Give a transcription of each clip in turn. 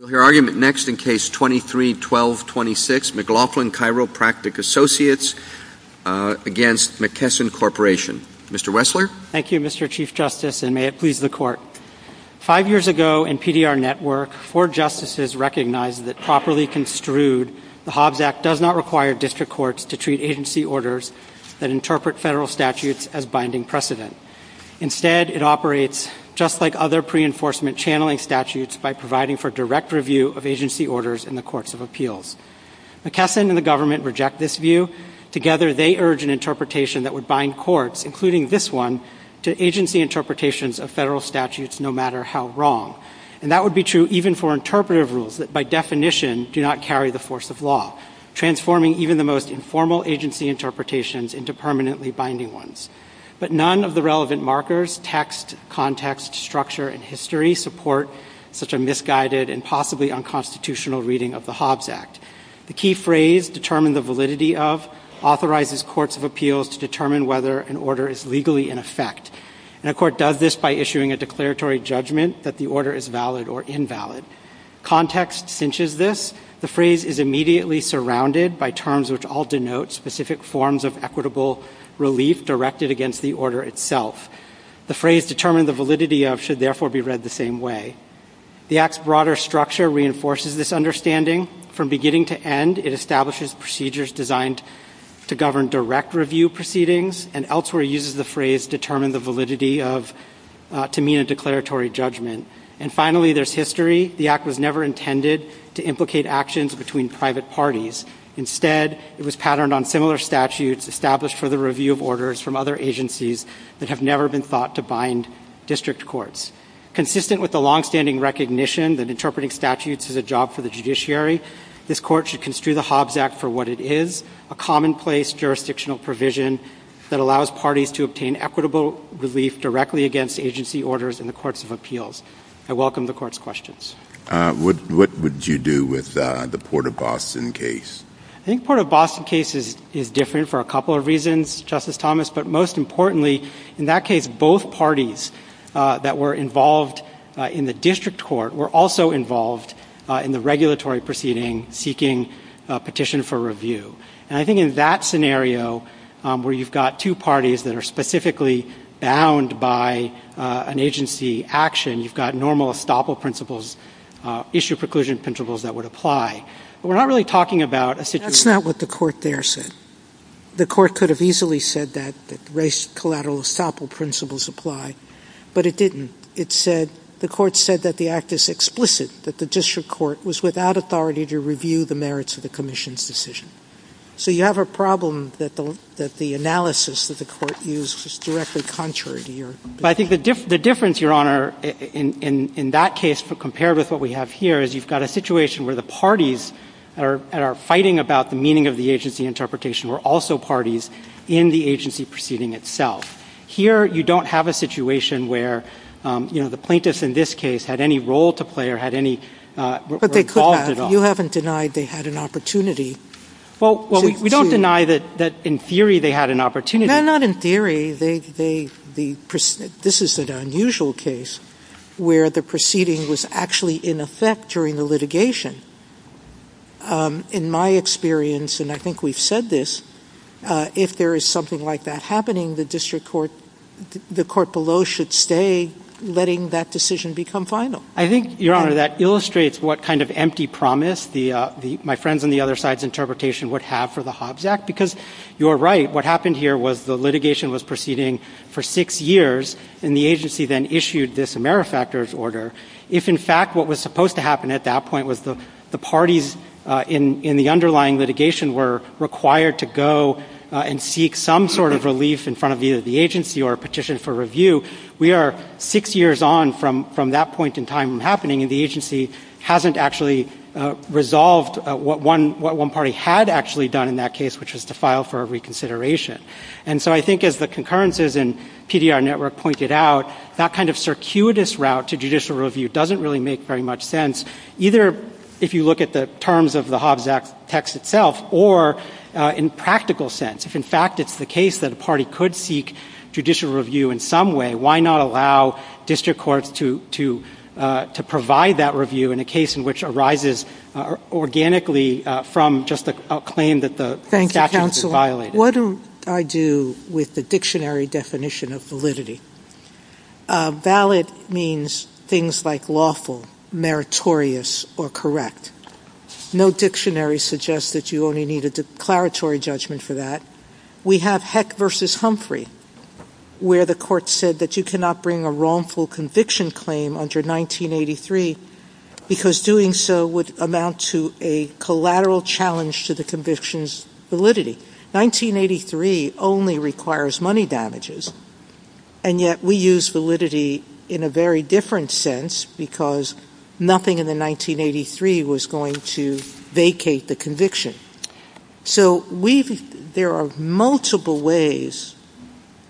5 years ago, in PDR Network, four justices recognized that, properly construed, the Hobbs Act does not require district courts to treat agency orders that interpret federal statutes as binding precedent. Instead, it operates, just like other pre-enforcement channeling statutes, by providing for district courts to interpret federal statutes as binding precedent. In fact, the Hobbs Act does not require district courts to interpret federal statutes as binding precedent. Instead, it requires a direct review of agency orders in the Courts of Appeals. McKesson and the government reject this view. Together, they urge an interpretation that would bind courts, including this one, to agency interpretations of federal statutes no matter how wrong. And that would be true even for interpretive rules that, by definition, do not carry the force of law, transforming even the most informal agency interpretations into permanently binding ones. But none of the relevant markers—text, context, structure, and history—support such a misguided and possibly unconstitutional reading of the Hobbs Act. The key phrase, determine the validity of, authorizes Courts of Appeals to determine whether an order is legally in effect. And a court does this by issuing a declaratory judgment that the order is valid or invalid. Context cinches this. The phrase is immediately surrounded by terms which all denote specific forms of equitable relief directed against the order itself. The phrase, determine the validity of, should therefore be read the same way. The Act's broader structure reinforces this understanding. From beginning to end, it establishes procedures designed to govern direct review proceedings, and elsewhere uses the phrase, determine the validity of, to mean a declaratory judgment. And finally, there's history. The Act was never intended to implicate actions between private parties. Instead, it was patterned on similar statutes established for the review of orders from other agencies that have never been thought to bind district courts. Consistent with the longstanding recognition that interpreting statutes is a job for the judiciary, this Court should construe the Hobbs Act for what it is—a commonplace jurisdictional provision that allows parties to obtain equitable relief directly against agency orders in the Courts of Appeals. I welcome the Court's questions. What would you do with the Port of Boston case? I think the Port of Boston case is different for a couple of reasons, Justice Thomas. But most importantly, in that case, both parties that were involved in the district court were also involved in the regulatory proceeding seeking a petition for review. And I think in that scenario, where you've got two parties that are specifically bound by an agency action, you've got normal estoppel principles, issue preclusion principles that would apply. But we're not really talking about a situation— I think the difference, Your Honor, in that case, compared with what we have here, is you've got a situation where the parties that are fighting about the meaning of the agency interpretation were also parties in the agency proceeding itself. Here, you don't have a situation where, you know, the plaintiffs in this case had any role to play or had any— But they could have. You haven't denied they had an opportunity. Well, we don't deny that in theory they had an opportunity. No, not in theory. This is an unusual case where the proceeding was actually in effect during the litigation. In my experience, and I think we've said this, if there is something like that happening, the court below should stay, letting that decision become final. I think, Your Honor, that illustrates what kind of empty promise my friends on the other side's interpretation would have for the Hobbs Act, because you're right. What happened here was the litigation was proceeding for six years, and the agency then issued this AmeriFactors order. If, in fact, what was supposed to happen at that point was the parties in the underlying litigation were required to go and seek some sort of relief in front of either the agency or a petition for review, we are six years on from that point in time from happening, and the agency hasn't actually resolved what one party had actually done in that case, which was to file for a reconsideration. And so I think as the concurrences in PDR Network pointed out, that kind of circuitous route to judicial review doesn't really make very much sense, either if you look at the terms of the Hobbs Act text itself or in practical sense. If, in fact, it's the case that a party could seek judicial review in some way, why not allow district courts to provide that review in a case in which arises organically from just a claim that the statute is violated? What do I do with the dictionary definition of validity? Valid means things like lawful, meritorious, or correct. No dictionary suggests that you only need a declaratory judgment for that. We have Heck v. Humphrey, where the court said that you cannot bring a wrongful conviction claim under 1983 because doing so would amount to a collateral challenge to the conviction's validity. 1983 only requires money damages, and yet we use validity in a very different sense because nothing in the 1983 was going to vacate the conviction. So there are multiple ways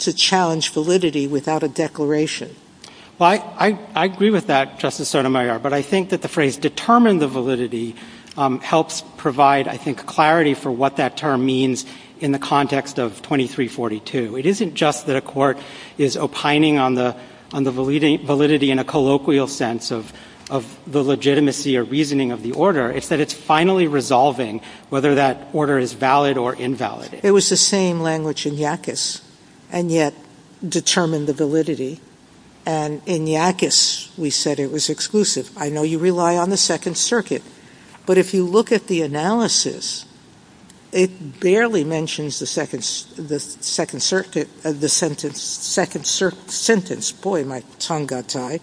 to challenge validity without a declaration. Well, I agree with that, Justice Sotomayor, but I think that the phrase determine the validity helps provide, I think, clarity for what that term means in the context of 2342. It isn't just that a court is opining on the validity in a colloquial sense of the legitimacy or reasoning of the order. It's that it's finally resolving whether that order is valid or invalid. It was the same language in Yackas, and yet determine the validity. And in Yackas, we said it was exclusive. I know you rely on the Second Circuit, but if you look at the analysis, it barely mentions the second sentence. Boy, my tongue got tied.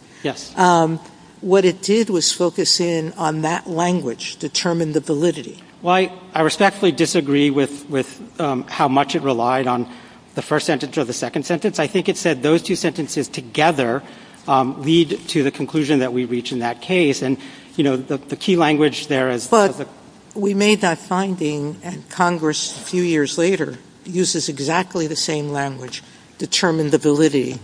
What it did was focus in on that language, determine the validity. Well, I respectfully disagree with how much it relied on the first sentence or the second sentence. I think it said those two sentences together lead to the conclusion that we reach in that case. And, you know, the key language there is the — But we made that finding, and Congress, a few years later, uses exactly the same language, determine the validity,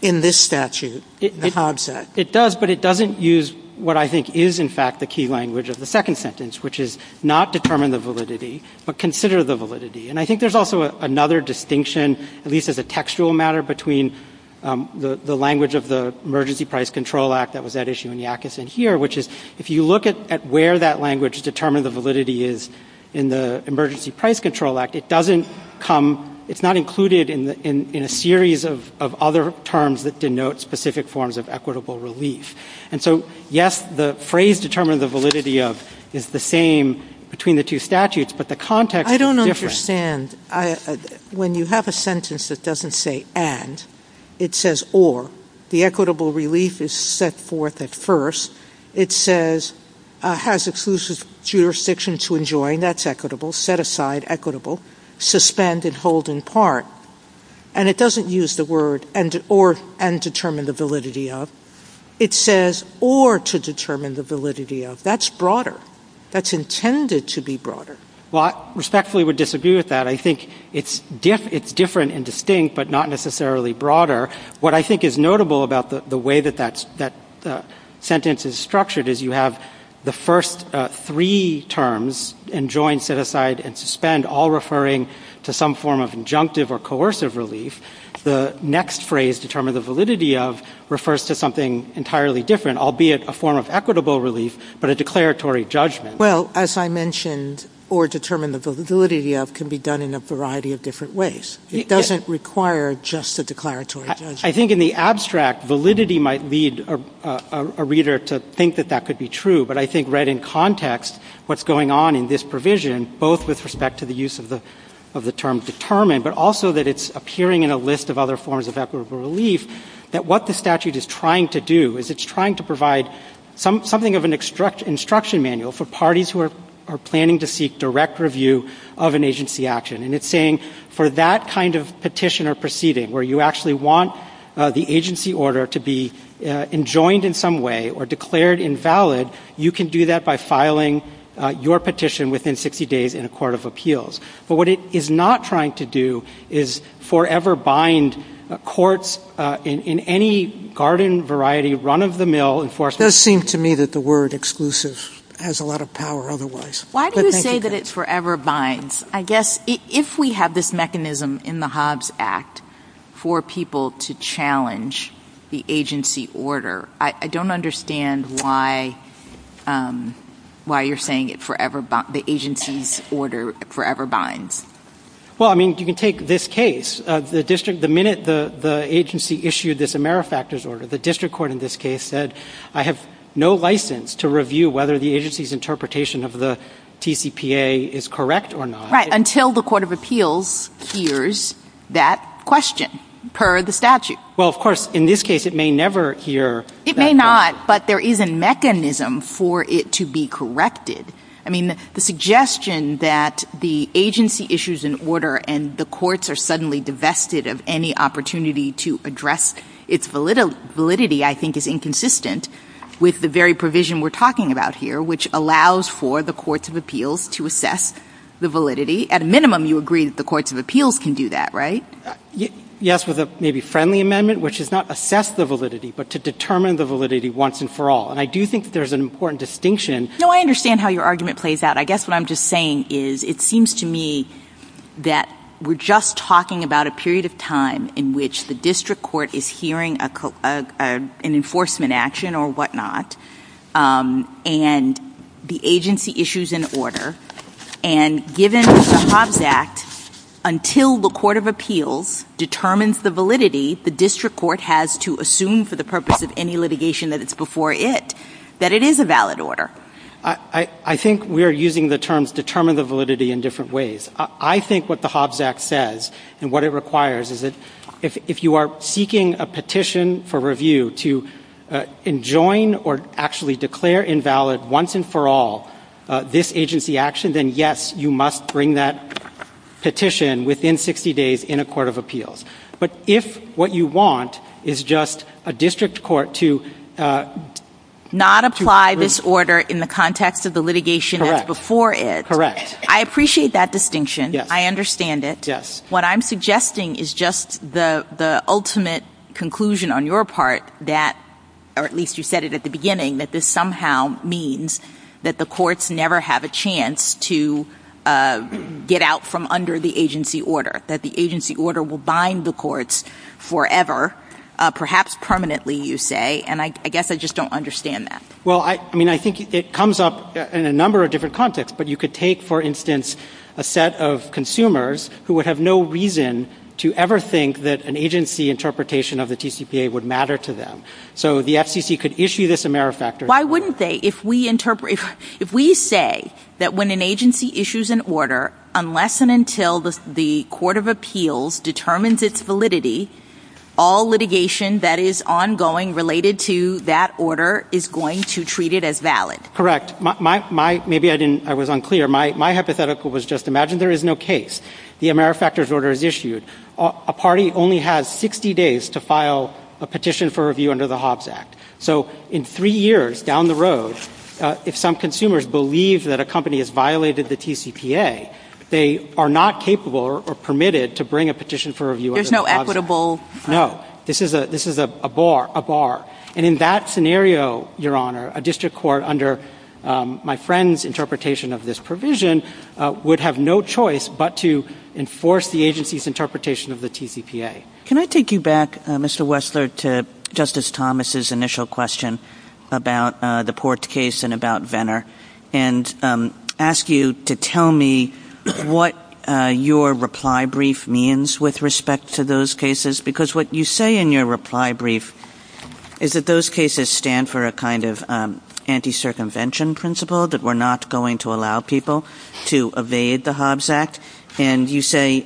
in this statute, the Hobbs Act. It does, but it doesn't use what I think is, in fact, the key language of the second sentence, which is not determine the validity, but consider the validity. And I think there's also another distinction, at least as a textual matter, between the language of the Emergency Price Control Act that was at issue in Yackas and here, which is if you look at where that language, determine the validity, is in the Emergency Price Control Act, it doesn't come — it's not included in a series of other terms that denote specific forms of equitable relief. And so, yes, the phrase determine the validity of is the same between the two statutes, but the context is different. I don't understand. When you have a sentence that doesn't say and, it says or. The equitable relief is set forth at first. It says has exclusive jurisdiction to enjoin. That's equitable. Set aside, equitable. Suspend and hold in part. And it doesn't use the word and or, and determine the validity of. It says or to determine the validity of. That's broader. That's intended to be broader. Well, I respectfully would disagree with that. I think it's different and distinct, but not necessarily broader. What I think is notable about the way that that sentence is structured is you have the first three terms, enjoin, set aside, and suspend, all referring to some form of injunctive or coercive relief. The next phrase, determine the validity of, refers to something entirely different, albeit a form of equitable relief, but a declaratory judgment. Well, as I mentioned, or determine the validity of can be done in a variety of different ways. It doesn't require just a declaratory judgment. I think in the abstract, validity might lead a reader to think that that could be true. But I think right in context, what's going on in this provision, both with respect to the use of the term determine, but also that it's appearing in a list of other forms of equitable relief, that what the statute is trying to do is it's trying to provide something of an instruction manual for parties who are planning to seek direct review of an agency action. And it's saying for that kind of petition or proceeding, where you actually want the agency order to be enjoined in some way or declared invalid, you can do that by filing your petition within 60 days in a court of appeals. But what it is not trying to do is forever bind courts in any garden variety, run-of-the-mill enforcement. It does seem to me that the word exclusive has a lot of power otherwise. Why do you say that it forever binds? I guess if we have this mechanism in the Hobbs Act for people to challenge the agency order, I don't understand why you're saying the agency's order forever binds. Well, I mean, you can take this case. The minute the agency issued this AmeriFactors order, the district court in this case said, I have no license to review whether the agency's interpretation of the TCPA is correct or not. Right, until the court of appeals hears that question per the statute. Well, of course, in this case it may never hear that question. It may not, but there is a mechanism for it to be corrected. I mean, the suggestion that the agency issues an order and the courts are suddenly divested of any opportunity to address its validity, I think is inconsistent with the very provision we're talking about here, which allows for the courts of appeals to assess the validity. At a minimum, you agree that the courts of appeals can do that, right? Yes, with a maybe friendly amendment, which is not assess the validity, but to determine the validity once and for all. And I do think there's an important distinction. No, I understand how your argument plays out. But I guess what I'm just saying is, it seems to me that we're just talking about a period of time in which the district court is hearing an enforcement action or whatnot, and the agency issues an order. And given the Hobbs Act, until the court of appeals determines the validity, the district court has to assume for the purpose of any litigation that it's before it, that it is a valid order. I think we are using the terms determine the validity in different ways. I think what the Hobbs Act says and what it requires is that if you are seeking a petition for review to enjoin or actually declare invalid once and for all this agency action, then yes, you must bring that petition within 60 days in a court of appeals. But if what you want is just a district court to... Not apply this order in the context of the litigation before it. I appreciate that distinction. I understand it. What I'm suggesting is just the ultimate conclusion on your part, or at least you said it at the beginning, that this somehow means that the courts never have a chance to get out from under the agency order, that the agency order will bind the courts forever, perhaps permanently, you say. And I guess I just don't understand that. Well, I mean, I think it comes up in a number of different contexts. But you could take, for instance, a set of consumers who would have no reason to ever think that an agency interpretation of the TCPA would matter to them. So the FCC could issue this a mere factor. Why wouldn't they? If we say that when an agency issues an order, unless and until the court of appeals determines its validity, all litigation that is ongoing related to that order is going to treat it as valid. Correct. Maybe I was unclear. My hypothetical was just imagine there is no case. The AmeriFactors order is issued. A party only has 60 days to file a petition for review under the Hobbs Act. So in three years down the road, if some consumers believe that a company has violated the TCPA, they are not capable or permitted to bring a petition for review under the Hobbs Act. There's no equitable... No. This is a bar. And in that scenario, Your Honor, a district court under my friend's interpretation of this provision would have no choice but to enforce the agency's interpretation of the TCPA. Can I take you back, Mr. Wessler, to Justice Thomas' initial question about the Port case and about Venner and ask you to tell me what your reply brief means with respect to those cases? Because what you say in your reply brief is that those cases stand for a kind of anti-circumvention principle that we're not going to allow people to evade the Hobbs Act. And you say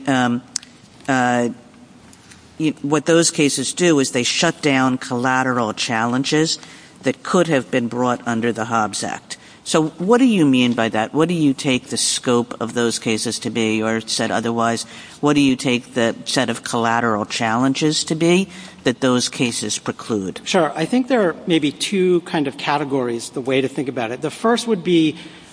what those cases do is they shut down collateral challenges that could have been brought under the Hobbs Act. So what do you mean by that? What do you take the scope of those cases to be, or said otherwise, what do you take the set of collateral challenges to be that those cases preclude? Sure. I think there are maybe two kind of categories, the way to think about it. The first would be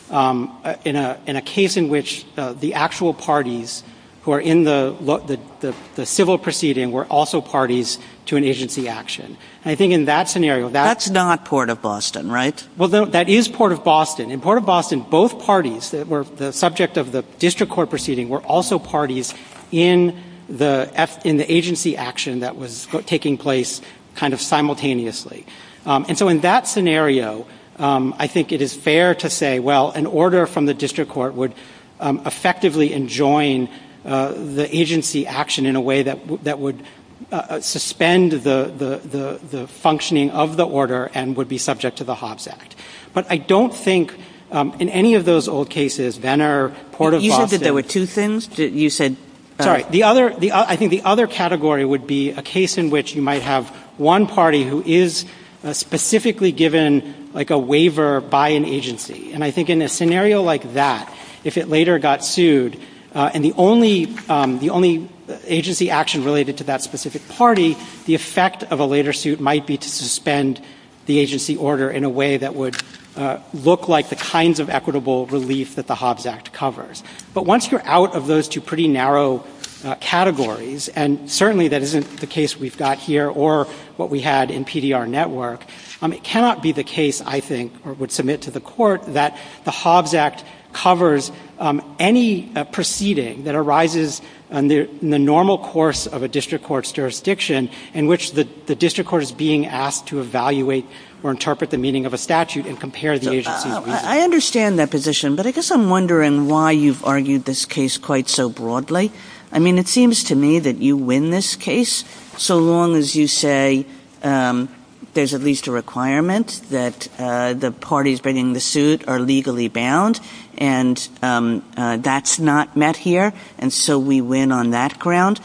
in a case in which the actual parties who are in the civil proceeding were also parties to an agency action. That's not Port of Boston, right? Well, that is Port of Boston. In Port of Boston, both parties that were the subject of the district court proceeding were also parties in the agency action that was taking place kind of simultaneously. And so in that scenario, I think it is fair to say, well, an order from the district court would effectively enjoin the agency action in a way that would suspend the functioning of the order and would be subject to the Hobbs Act. But I don't think in any of those old cases, Venner, Port of Boston. You said that there were two things? I think the other category would be a case in which you might have one party who is specifically given a waiver by an agency. And I think in a scenario like that, if it later got sued and the only agency action related to that specific party, the effect of a later suit might be to suspend the agency order in a way that would look like the kinds of equitable relief that the Hobbs Act covers. But once you're out of those two pretty narrow categories, and certainly that isn't the case we've got here or what we had in PDR Network, it cannot be the case, I think, or would submit to the court, that the Hobbs Act covers any proceeding that arises in the normal course of a district court's jurisdiction in which the district court is being asked to evaluate or interpret the meaning of a statute and compare the agency. I understand that position, but I guess I'm wondering why you've argued this case quite so broadly. I mean, it seems to me that you win this case so long as you say there's at least a requirement that the parties bringing the suit are legally bound, and that's not met here, and so we win on that ground.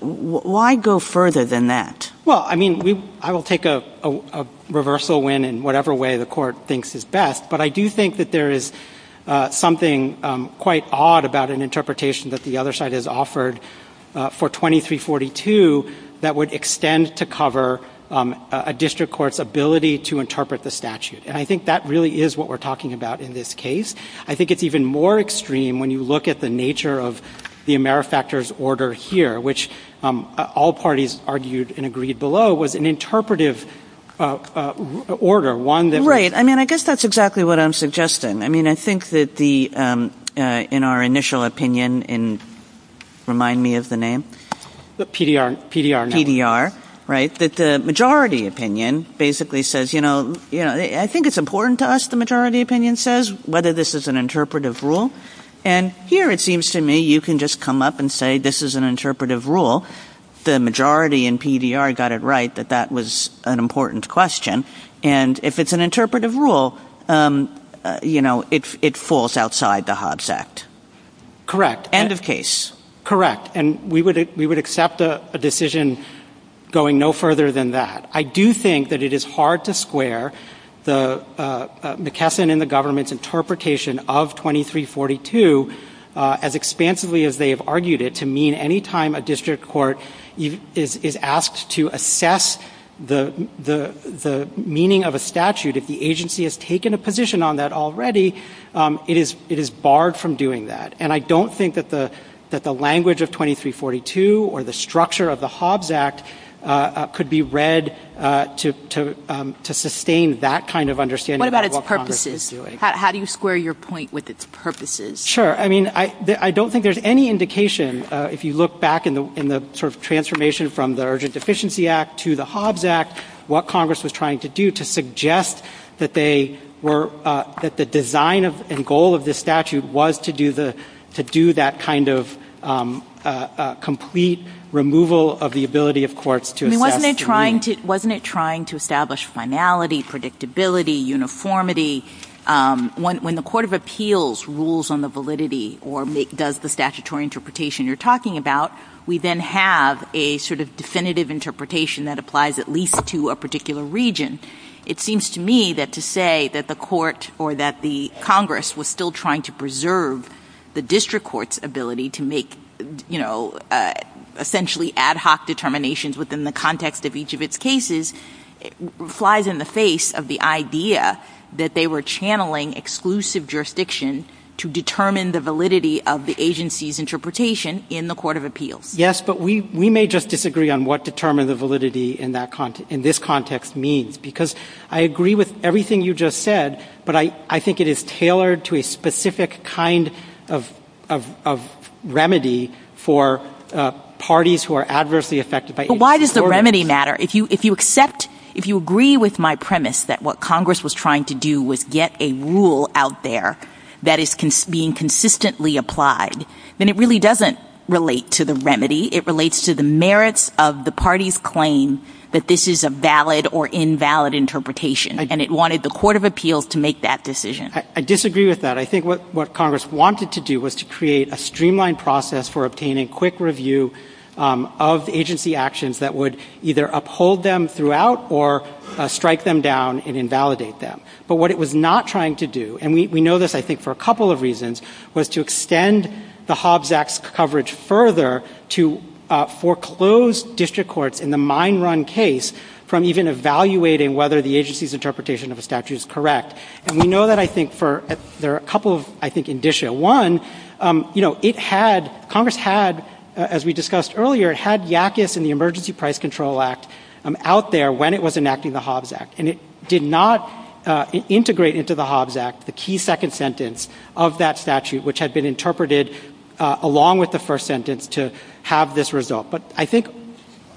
Why go further than that? Well, I mean, I will take a reversal win in whatever way the court thinks is best, but I do think that there is something quite odd about an interpretation that the other side has offered for 2342 that would extend to cover a district court's ability to interpret the statute, and I think that really is what we're talking about in this case. I think it's even more extreme when you look at the nature of the AmeriFactors order here, which all parties argued and agreed below was an interpretive order. Right. I mean, I guess that's exactly what I'm suggesting. I mean, I think that in our initial opinion in, remind me of the name? PDR. PDR, right, that the majority opinion basically says, you know, I think it's important to us, the majority opinion says, whether this is an interpretive rule, and here it seems to me you can just come up and say this is an interpretive rule. The majority in PDR got it right that that was an important question, and if it's an interpretive rule, you know, it falls outside the Hobbs Act. Correct. End of case. Correct, and we would accept a decision going no further than that. I do think that it is hard to square the McKesson and the government's interpretation of 2342 as expansively as they have argued it to mean any time a district court is asked to assess the meaning of a statute, if the agency has taken a position on that already, it is barred from doing that, and I don't think that the language of 2342 or the structure of the Hobbs Act could be read to sustain that kind of understanding. What about its purposes? How do you square your point with its purposes? Sure. I mean, I don't think there's any indication, if you look back in the sort of transformation from the Urgent Deficiency Act to the Hobbs Act, what Congress was trying to do to suggest that they were, that the design and goal of this statute was to do that kind of complete removal of the ability of courts to assess. I mean, wasn't it trying to establish finality, predictability, uniformity? When the Court of Appeals rules on the validity or does the statutory interpretation you're talking about, we then have a sort of definitive interpretation that applies at least to a particular region. It seems to me that to say that the court or that the Congress was still trying to preserve the district court's ability to make, you know, essentially ad hoc determinations within the context of each of its cases flies in the face of the idea that they were channeling exclusive jurisdiction to determine the validity of the agency's interpretation in the Court of Appeals. Yes, but we may just disagree on what determine the validity in this context means because I agree with everything you just said, but I think it is tailored to a specific kind of remedy for parties who are adversely affected by agency coercion. But why does the remedy matter? If you accept, if you agree with my premise that what Congress was trying to do was get a rule out there that is being consistently applied, then it really doesn't relate to the remedy. It relates to the merits of the party's claim that this is a valid or invalid interpretation, and it wanted the Court of Appeals to make that decision. I disagree with that. I think what Congress wanted to do was to create a streamlined process for obtaining quick review of agency actions that would either uphold them throughout or strike them down and invalidate them. But what it was not trying to do, and we know this, I think, for a couple of reasons, was to extend the Hobbs Act's coverage further to foreclose district courts in the mine run case from even evaluating whether the agency's interpretation of the statute is correct. And we know that, I think, for a couple of, I think, indicia. One, you know, it had, Congress had, as we discussed earlier, had Yakis and the Emergency Price Control Act out there when it was enacting the Hobbs Act, and it did not integrate into the Hobbs Act the key second sentence of that statute, which had been interpreted along with the first sentence to have this result. But I think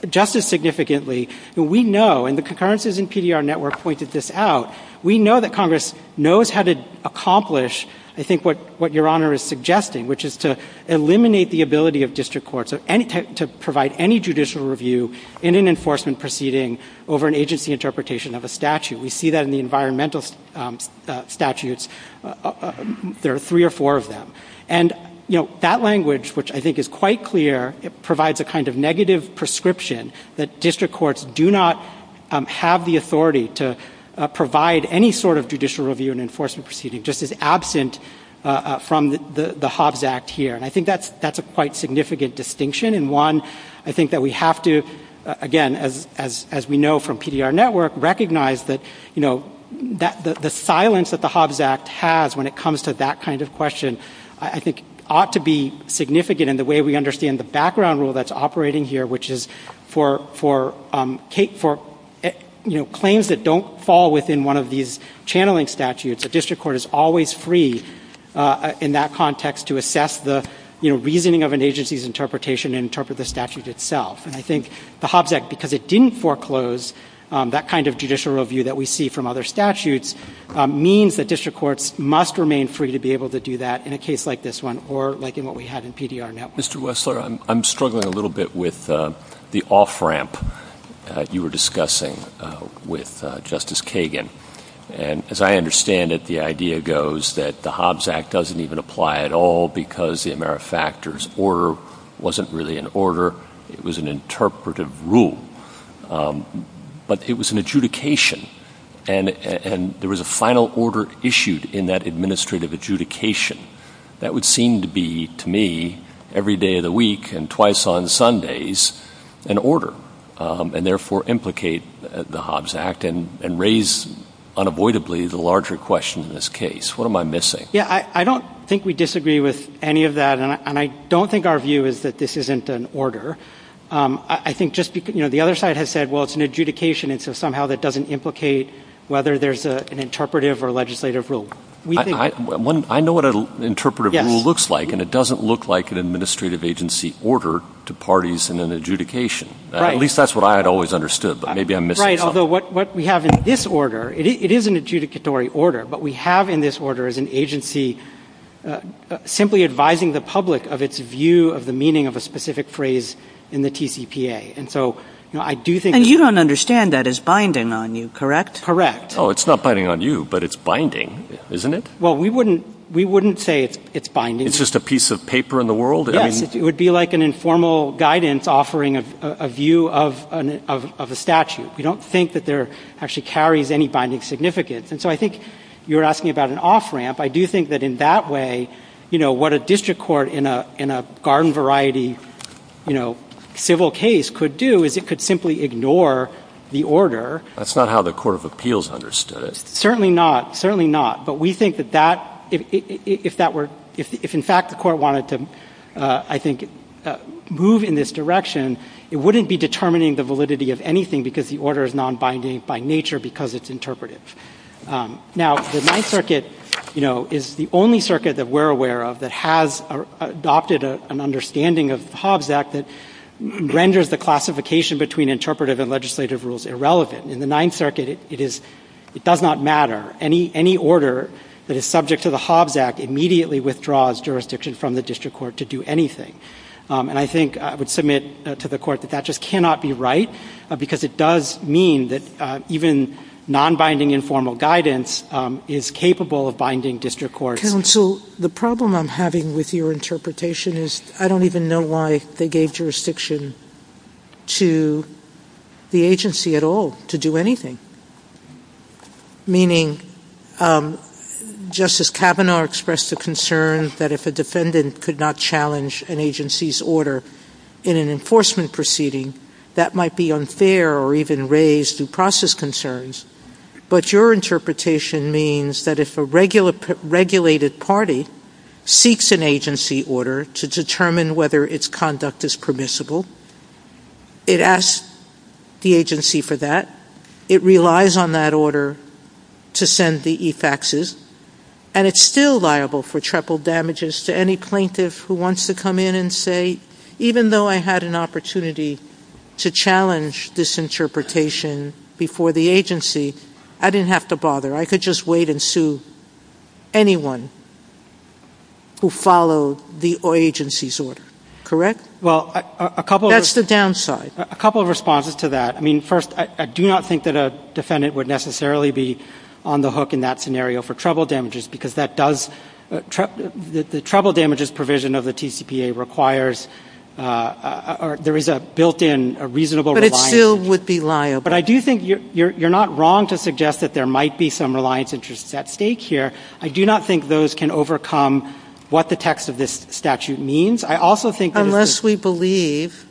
just as significantly, we know, and the concurrences in PDR Network pointed this out, we know that Congress knows how to accomplish, I think, what Your Honor is suggesting, which is to eliminate the ability of district courts to provide any judicial review in an enforcement proceeding over an agency interpretation of a statute. We see that in the environmental statutes. There are three or four of them. And, you know, that language, which I think is quite clear, provides a kind of negative prescription that district courts do not have the authority to provide any sort of judicial review in an enforcement proceeding, just as absent from the Hobbs Act here. And I think that's a quite significant distinction. And one, I think that we have to, again, as we know from PDR Network, recognize that, you know, the silence that the Hobbs Act has when it comes to that kind of question, I think, ought to be significant in the way we understand the background rule that's operating here, which is for, you know, claims that don't fall within one of these channeling statutes, a district court is always free in that context to assess the, you know, reasoning of an agency's interpretation and interpret the statute itself. And I think the Hobbs Act, because it didn't foreclose that kind of judicial review that we see from other statutes, means that district courts must remain free to be able to do that in a case like this one or like in what we have in PDR Network. Mr. Wessler, I'm struggling a little bit with the off-ramp you were discussing with Justice Kagan. And as I understand it, the idea goes that the Hobbs Act doesn't even apply at all because the AmeriFactors order wasn't really an order. It was an interpretive rule. But it was an adjudication, and there was a final order issued in that administrative adjudication. That would seem to be, to me, every day of the week and twice on Sundays an order and therefore implicate the Hobbs Act and raise unavoidably the larger question in this case. What am I missing? Yeah, I don't think we disagree with any of that, and I don't think our view is that this isn't an order. I think just, you know, the other side has said, well, it's an adjudication, and so somehow that doesn't implicate whether there's an interpretive or legislative rule. I know what an interpretive rule looks like, and it doesn't look like an administrative agency order to parties in an adjudication. At least that's what I had always understood, but maybe I'm missing something. Right, although what we have in this order, it is an adjudicatory order. What we have in this order is an agency simply advising the public of its view of the meaning of a specific phrase in the TCPA. And so I do think— And you don't understand that as binding on you, correct? Correct. Oh, it's not binding on you, but it's binding, isn't it? Well, we wouldn't say it's binding. It's just a piece of paper in the world? Yes, it would be like an informal guidance offering a view of a statute. We don't think that there actually carries any binding significance. And so I think you're asking about an off-ramp. I do think that in that way, you know, what a district court in a garden-variety, you know, civil case could do is it could simply ignore the order. That's not how the Court of Appeals understood it. Certainly not. Certainly not. But we think that that—if that were—if, in fact, the Court wanted to, I think, move in this direction, it wouldn't be determining the validity of anything because the order is non-binding by nature because it's interpretive. Now, the Ninth Circuit, you know, is the only circuit that we're aware of that has adopted an understanding of Hobbs Act that renders the classification between interpretive and legislative rules irrelevant. In the Ninth Circuit, it is—it does not matter. Any order that is subject to the Hobbs Act immediately withdraws jurisdiction from the district court to do anything. And I think—I would submit to the Court that that just cannot be right because it does mean that even non-binding informal guidance is capable of binding district court. Counsel, the problem I'm having with your interpretation is I don't even know why they gave jurisdiction to the agency at all to do anything, meaning Justice Kavanaugh expressed a concern that if a defendant could not challenge an agency's order in an enforcement proceeding, that might be unfair or even raise due process concerns. But your interpretation means that if a regulated party seeks an agency order to determine whether its conduct is permissible, it asks the agency for that, it relies on that order to send the e-faxes, and it's still liable for triple damages to any plaintiff who wants to come in and say, even though I had an opportunity to challenge this interpretation before the agency, I didn't have to bother. I could just wait and sue anyone who followed the agency's order, correct? Well, a couple of— That's the downside. A couple of responses to that. I mean, first, I do not think that a defendant would necessarily be on the hook in that scenario for triple damages because that does—the triple damages provision of the TCPA requires—there is a built-in reasonable reliance— But it still would be liable. But I do think you're not wrong to suggest that there might be some reliance interests at stake here. I do not think those can overcome what the text of this statute means. I also think— Unless we believe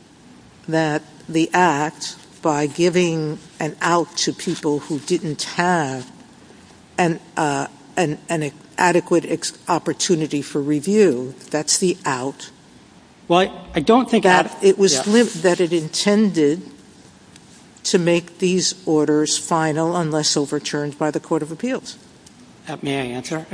that the act, by giving an out to people who didn't have an adequate opportunity for review, that's the out. Well, I don't think that— It was that it intended to make these orders final unless overturned by the court of appeals. May I answer?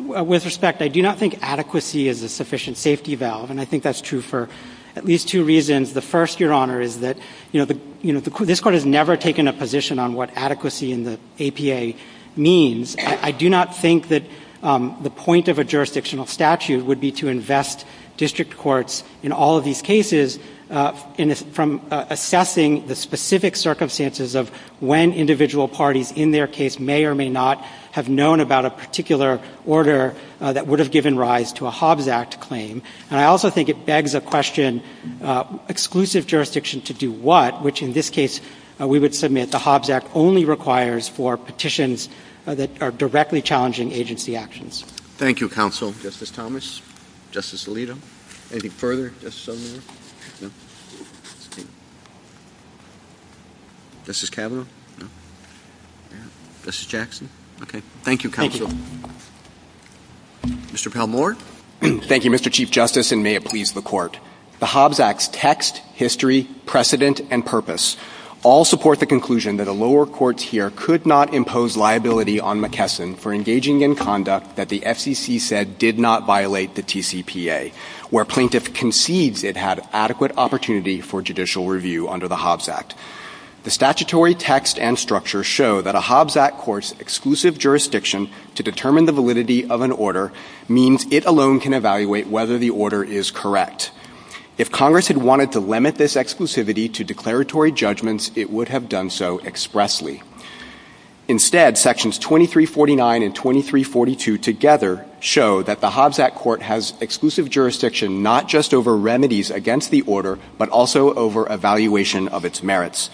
With respect, I do not think adequacy is a sufficient safety valve, and I think that's true for at least two reasons. The first, Your Honor, is that, you know, this Court has never taken a position on what adequacy in the APA means. I do not think that the point of a jurisdictional statute would be to invest district courts in all of these cases from assessing the specific circumstances of when individual parties in their case may or may not have known about a particular order that would have given rise to a Hobbs Act claim. And I also think it begs the question, exclusive jurisdiction to do what? Which, in this case, we would submit the Hobbs Act only requires for petitions that are directly challenging agency actions. Thank you, Counsel. Justice Thomas? Justice Alito? Anything further? Justice O'Neill? No. Justice Kavanaugh? No. Justice Jackson? Okay. Thank you, Counsel. Thank you. Mr. Palmore? Thank you, Mr. Chief Justice, and may it please the Court. The Hobbs Act's text, history, precedent, and purpose all support the conclusion that a lower court here could not impose liability on McKesson for engaging in conduct that the SEC said did not violate the TCPA, where plaintiff concedes it had adequate opportunity for judicial review under the Hobbs Act. The statutory text and structure show that a Hobbs Act court's exclusive jurisdiction to determine the validity of an order means it alone can evaluate whether the order is correct. If Congress had wanted to limit this exclusivity to declaratory judgments, it would have done so expressly. Instead, Sections 2349 and 2342 together show that the Hobbs Act court has exclusive jurisdiction not just over remedies against the order, but also over evaluation of its merits.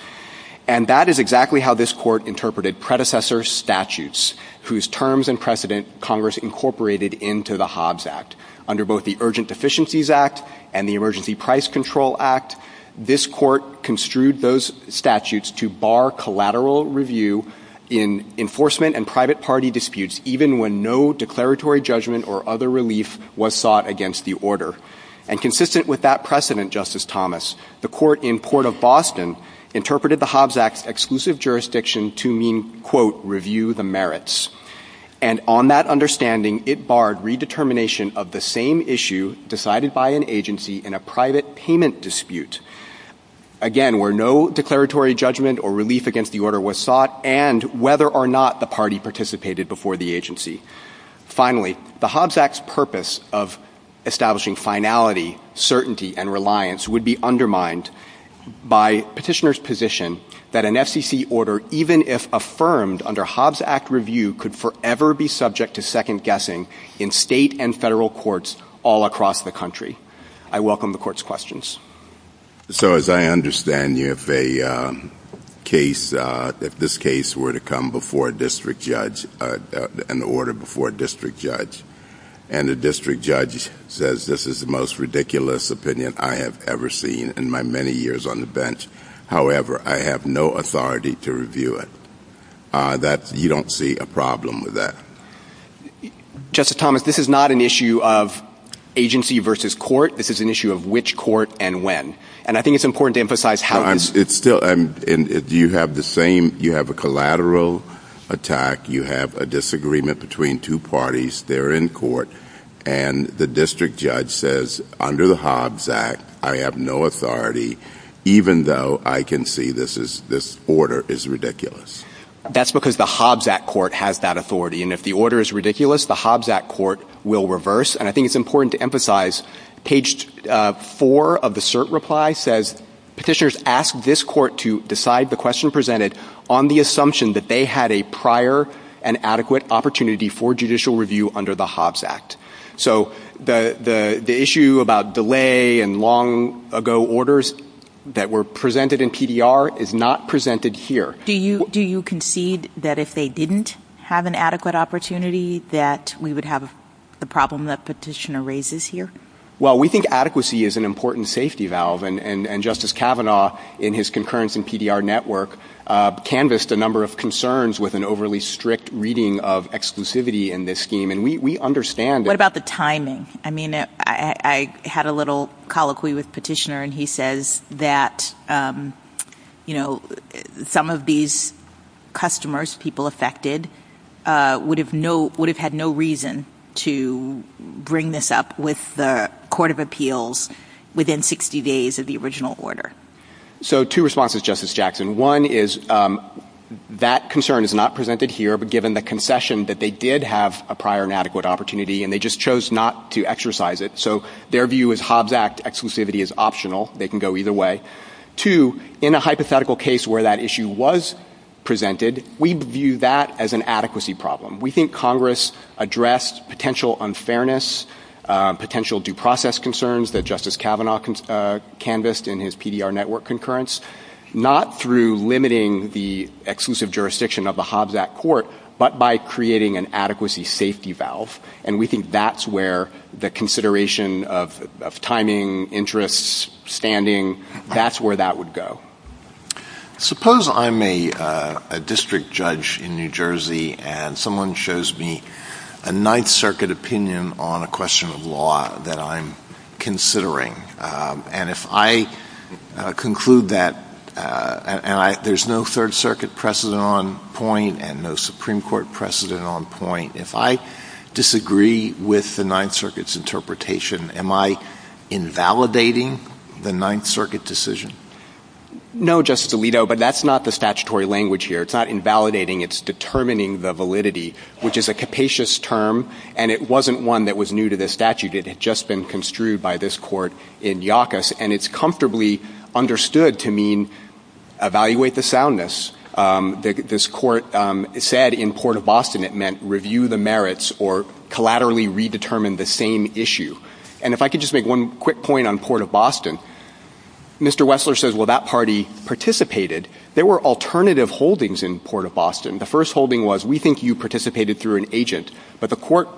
And that is exactly how this Court interpreted predecessor statutes, whose terms and precedent Congress incorporated into the Hobbs Act. Under both the Urgent Deficiencies Act and the Emergency Price Control Act, this Court construed those statutes to bar collateral review in enforcement and private party disputes, even when no declaratory judgment or other relief was sought against the order. And consistent with that precedent, Justice Thomas, the Court in Port of Boston interpreted the Hobbs Act's exclusive jurisdiction to mean, quote, review the merits. And on that understanding, it barred redetermination of the same issue decided by an agency in a private payment dispute, again, where no declaratory judgment or relief against the order was sought and whether or not the party participated before the agency. Finally, the Hobbs Act's purpose of establishing finality, certainty, and reliance would be undermined by Petitioner's position that an FCC order, even if affirmed under Hobbs Act review, could forever be subject to second-guessing in state and federal courts all across the country. I welcome the Court's questions. So as I understand, if a case, if this case were to come before a district judge, an order before a district judge, and the district judge says this is the most ridiculous opinion I have ever seen in my many years on the bench, however, I have no authority to review it, you don't see a problem with that? Justice Thomas, this is not an issue of agency versus court. This is an issue of which court and when. And I think it's important to emphasize how this... It's still, and do you have the same, you have a collateral attack, you have a disagreement between two parties, they're in court, and the district judge says, under the Hobbs Act, I have no authority, even though I can see this is, this order is ridiculous. That's because the Hobbs Act court has that authority. And if the order is ridiculous, the Hobbs Act court will reverse. And I think it's important to emphasize, page four of the cert reply says, Petitioners ask this court to decide the question presented on the assumption that they had a prior and adequate opportunity for judicial review under the Hobbs Act. So the issue about delay and long-ago orders that were presented in PDR is not presented here. Do you concede that if they didn't have an adequate opportunity, that we would have the problem that Petitioner raises here? Well, we think adequacy is an important safety valve. And Justice Kavanaugh, in his concurrence in PDR network, canvassed a number of concerns with an overly strict reading of exclusivity in this scheme. And we understand that. What about the timing? I mean, I had a little colloquy with Petitioner, and he says that, you know, some of these customers, people affected, would have had no reason to bring this up with the court of appeals within 60 days of the original order. So two responses, Justice Jackson. One is that concern is not presented here, but given the concession that they did have a prior and adequate opportunity, and they just chose not to exercise it. So their view is Hobbs Act exclusivity is optional. They can go either way. Two, in a hypothetical case where that issue was presented, we view that as an adequacy problem. We think Congress addressed potential unfairness, potential due process concerns that Justice Kavanaugh canvassed in his PDR network concurrence, not through limiting the exclusive jurisdiction of the Hobbs Act court, but by creating an adequacy safety valve. And we think that's where the consideration of timing, interests, standing, that's where that would go. Suppose I'm a district judge in New Jersey, and someone shows me a Ninth Circuit opinion on a question of law that I'm considering. And if I conclude that there's no Third Circuit precedent on point and no Supreme Court precedent on point, if I disagree with the Ninth Circuit's interpretation, am I invalidating the Ninth Circuit decision? No, Justice Alito, but that's not the statutory language here. It's not invalidating. It's determining the validity, which is a capacious term, and it wasn't one that was new to the statute. It had just been construed by this court in Yawkus, and it's comfortably understood to mean evaluate the soundness. This court said in Port of Boston it meant review the merits or collaterally redetermine the same issue. And if I could just make one quick point on Port of Boston, Mr. Wessler says, well, that party participated. There were alternative holdings in Port of Boston. The first holding was we think you participated through an agent, but the court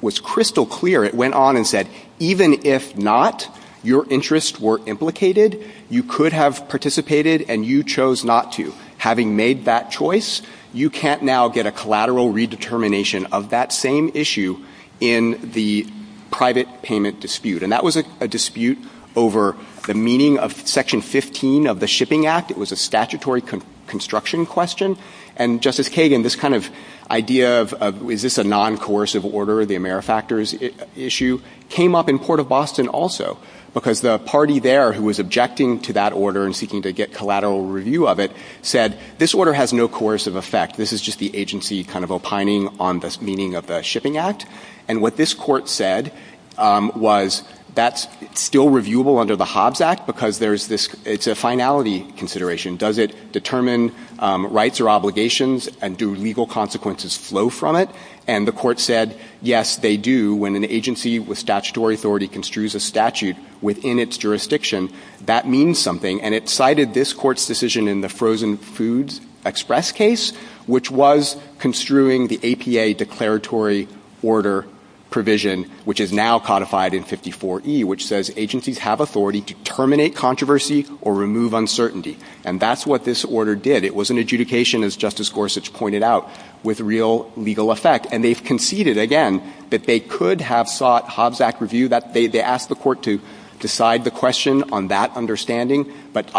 was crystal clear. It went on and said, even if not, your interests were implicated, you could have participated, and you chose not to. Having made that choice, you can't now get a collateral redetermination of that same issue in the private payment dispute. And that was a dispute over the meaning of Section 15 of the Shipping Act. It was a statutory construction question. And, Justice Kagan, this kind of idea of is this a non-coercive order, the AmeriFactors issue, came up in Port of Boston also because the party there who was objecting to that order and seeking to get collateral review of it said, this order has no coercive effect. This is just the agency kind of opining on the meaning of the Shipping Act. And what this court said was that's still reviewable under the Hobbs Act because it's a finality consideration. Does it determine rights or obligations, and do legal consequences flow from it? And the court said, yes, they do. When an agency with statutory authority construes a statute within its jurisdiction, that means something. And it cited this court's decision in the Frozen Foods Express case, which was construing the APA declaratory order provision, which is now codified in 54E, which says agencies have authority to terminate controversy or remove uncertainty. And that's what this order did. It was an adjudication, as Justice Gorsuch pointed out, with real legal effect. And they conceded, again, that they could have sought Hobbs Act review. They asked the court to decide the question on that understanding but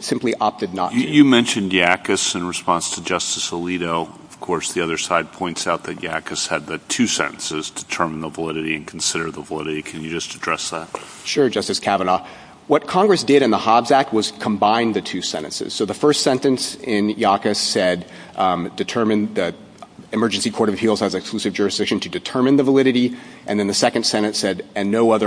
simply opted not to. You mentioned YACUS in response to Justice Alito. Of course, the other side points out that YACUS had the two sentences, determine the validity and consider the validity. Can you just address that? Sure, Justice Kavanaugh. What Congress did in the Hobbs Act was combine the two sentences. So the first sentence in YACUS said, the Emergency Court of Appeals has exclusive jurisdiction to determine the validity. And then the second sentence said, What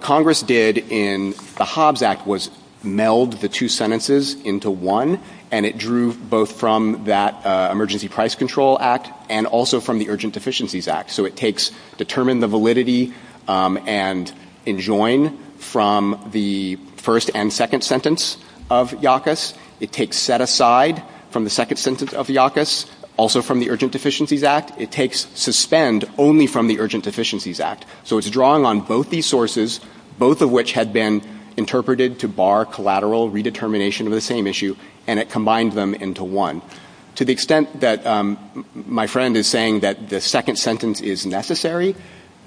Congress did in the Hobbs Act was meld the two sentences into one, and it drew both from that Emergency Price Control Act and also from the Urgent Deficiencies Act. So it takes determine the validity and enjoin from the first and second sentence of YACUS. It takes set aside from the second sentence of YACUS, also from the Urgent Deficiencies Act. It takes suspend only from the Urgent Deficiencies Act. So it's drawing on both these sources, both of which had been interpreted to bar collateral redetermination of the same issue, and it combines them into one. To the extent that my friend is saying that the second sentence is necessary,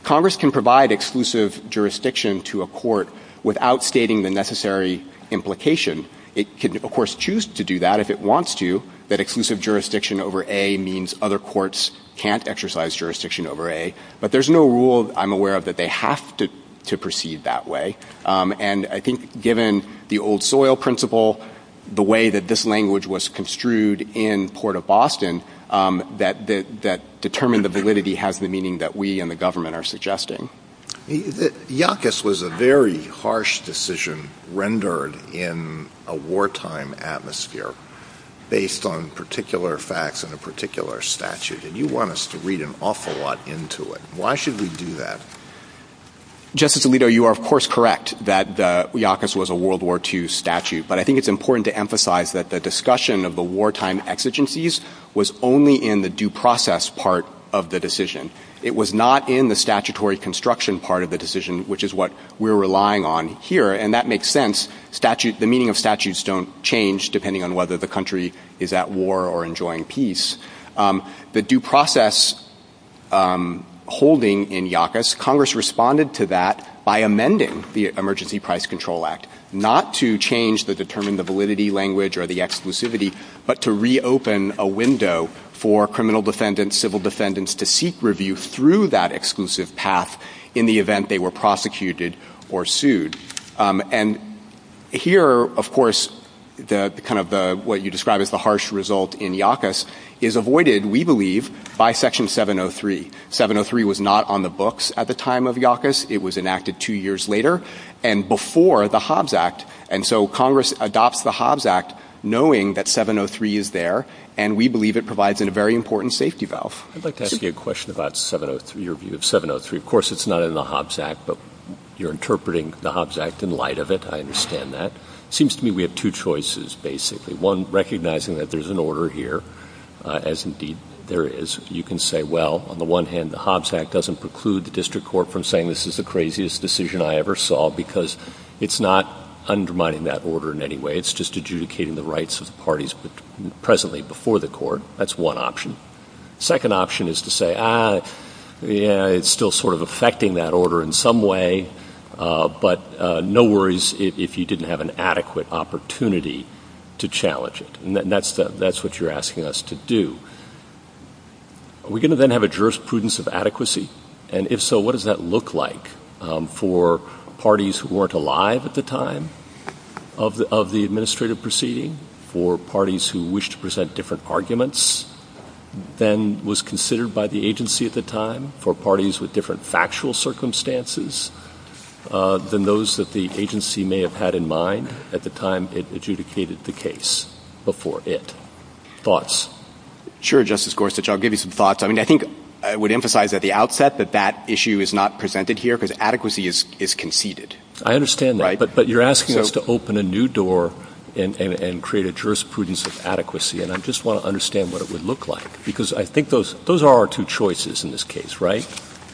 Congress can provide exclusive jurisdiction to a court without stating the necessary implication. It can, of course, choose to do that if it wants to, that exclusive jurisdiction over A means other courts can't exercise jurisdiction over A. But there's no rule I'm aware of that they have to proceed that way. And I think given the old soil principle, the way that this language was construed in Port of Boston, that determine the validity has the meaning that we and the government are suggesting. YACUS was a very harsh decision rendered in a wartime atmosphere based on particular facts and a particular statute, and you want us to read an awful lot into it. Why should we do that? Justice Alito, you are, of course, correct that YACUS was a World War II statute, but I think it's important to emphasize that the discussion of the wartime exigencies was only in the due process part of the decision. It was not in the statutory construction part of the decision, which is what we're relying on here, and that makes sense. The meaning of statutes don't change depending on whether the country is at war or enjoying peace. The due process holding in YACUS, Congress responded to that by amending the Emergency Price Control Act, not to change the determine the validity language or the exclusivity, but to reopen a window for criminal defendants, civil defendants, to seek review through that exclusive path in the event they were prosecuted or sued. And here, of course, kind of what you described as the harsh result in YACUS is avoided, we believe, by Section 703. 703 was not on the books at the time of YACUS. It was enacted two years later and before the Hobbes Act, and so Congress adopts the Hobbes Act knowing that 703 is there, and we believe it provides a very important safety valve. I'd like to ask you a question about your view of 703. Of course, it's not in the Hobbes Act, but you're interpreting the Hobbes Act in light of it. I understand that. It seems to me we have two choices, basically. One, recognizing that there's an order here, as indeed there is. You can say, well, on the one hand, the Hobbes Act doesn't preclude the district court from saying this is the craziest decision I ever saw because it's not undermining that order in any way. It's just adjudicating the rights of the parties presently before the court. That's one option. The second option is to say, ah, yeah, it's still sort of affecting that order in some way, but no worries if you didn't have an adequate opportunity to challenge it, and that's what you're asking us to do. Are we going to then have a jurisprudence of adequacy? And if so, what does that look like for parties who weren't alive at the time of the administrative proceeding, for parties who wish to present different arguments than was considered by the agency at the time, for parties with different factual circumstances than those that the agency may have had in mind at the time it adjudicated the case before it? Thoughts? Sure, Justice Gorsuch. I'll give you some thoughts. I mean, I think I would emphasize at the outset that that issue is not presented here because adequacy is conceded. I understand that, but you're asking us to open a new door and create a jurisprudence of adequacy, and I just want to understand what it would look like because I think those are our two choices in this case, right,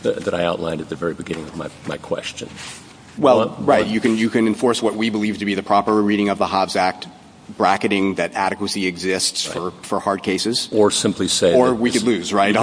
that I outlined at the very beginning of my question. Well, right, you can enforce what we believe to be the proper reading of the Hobbes Act, bracketing that adequacy exists for hard cases. Or simply say... Those are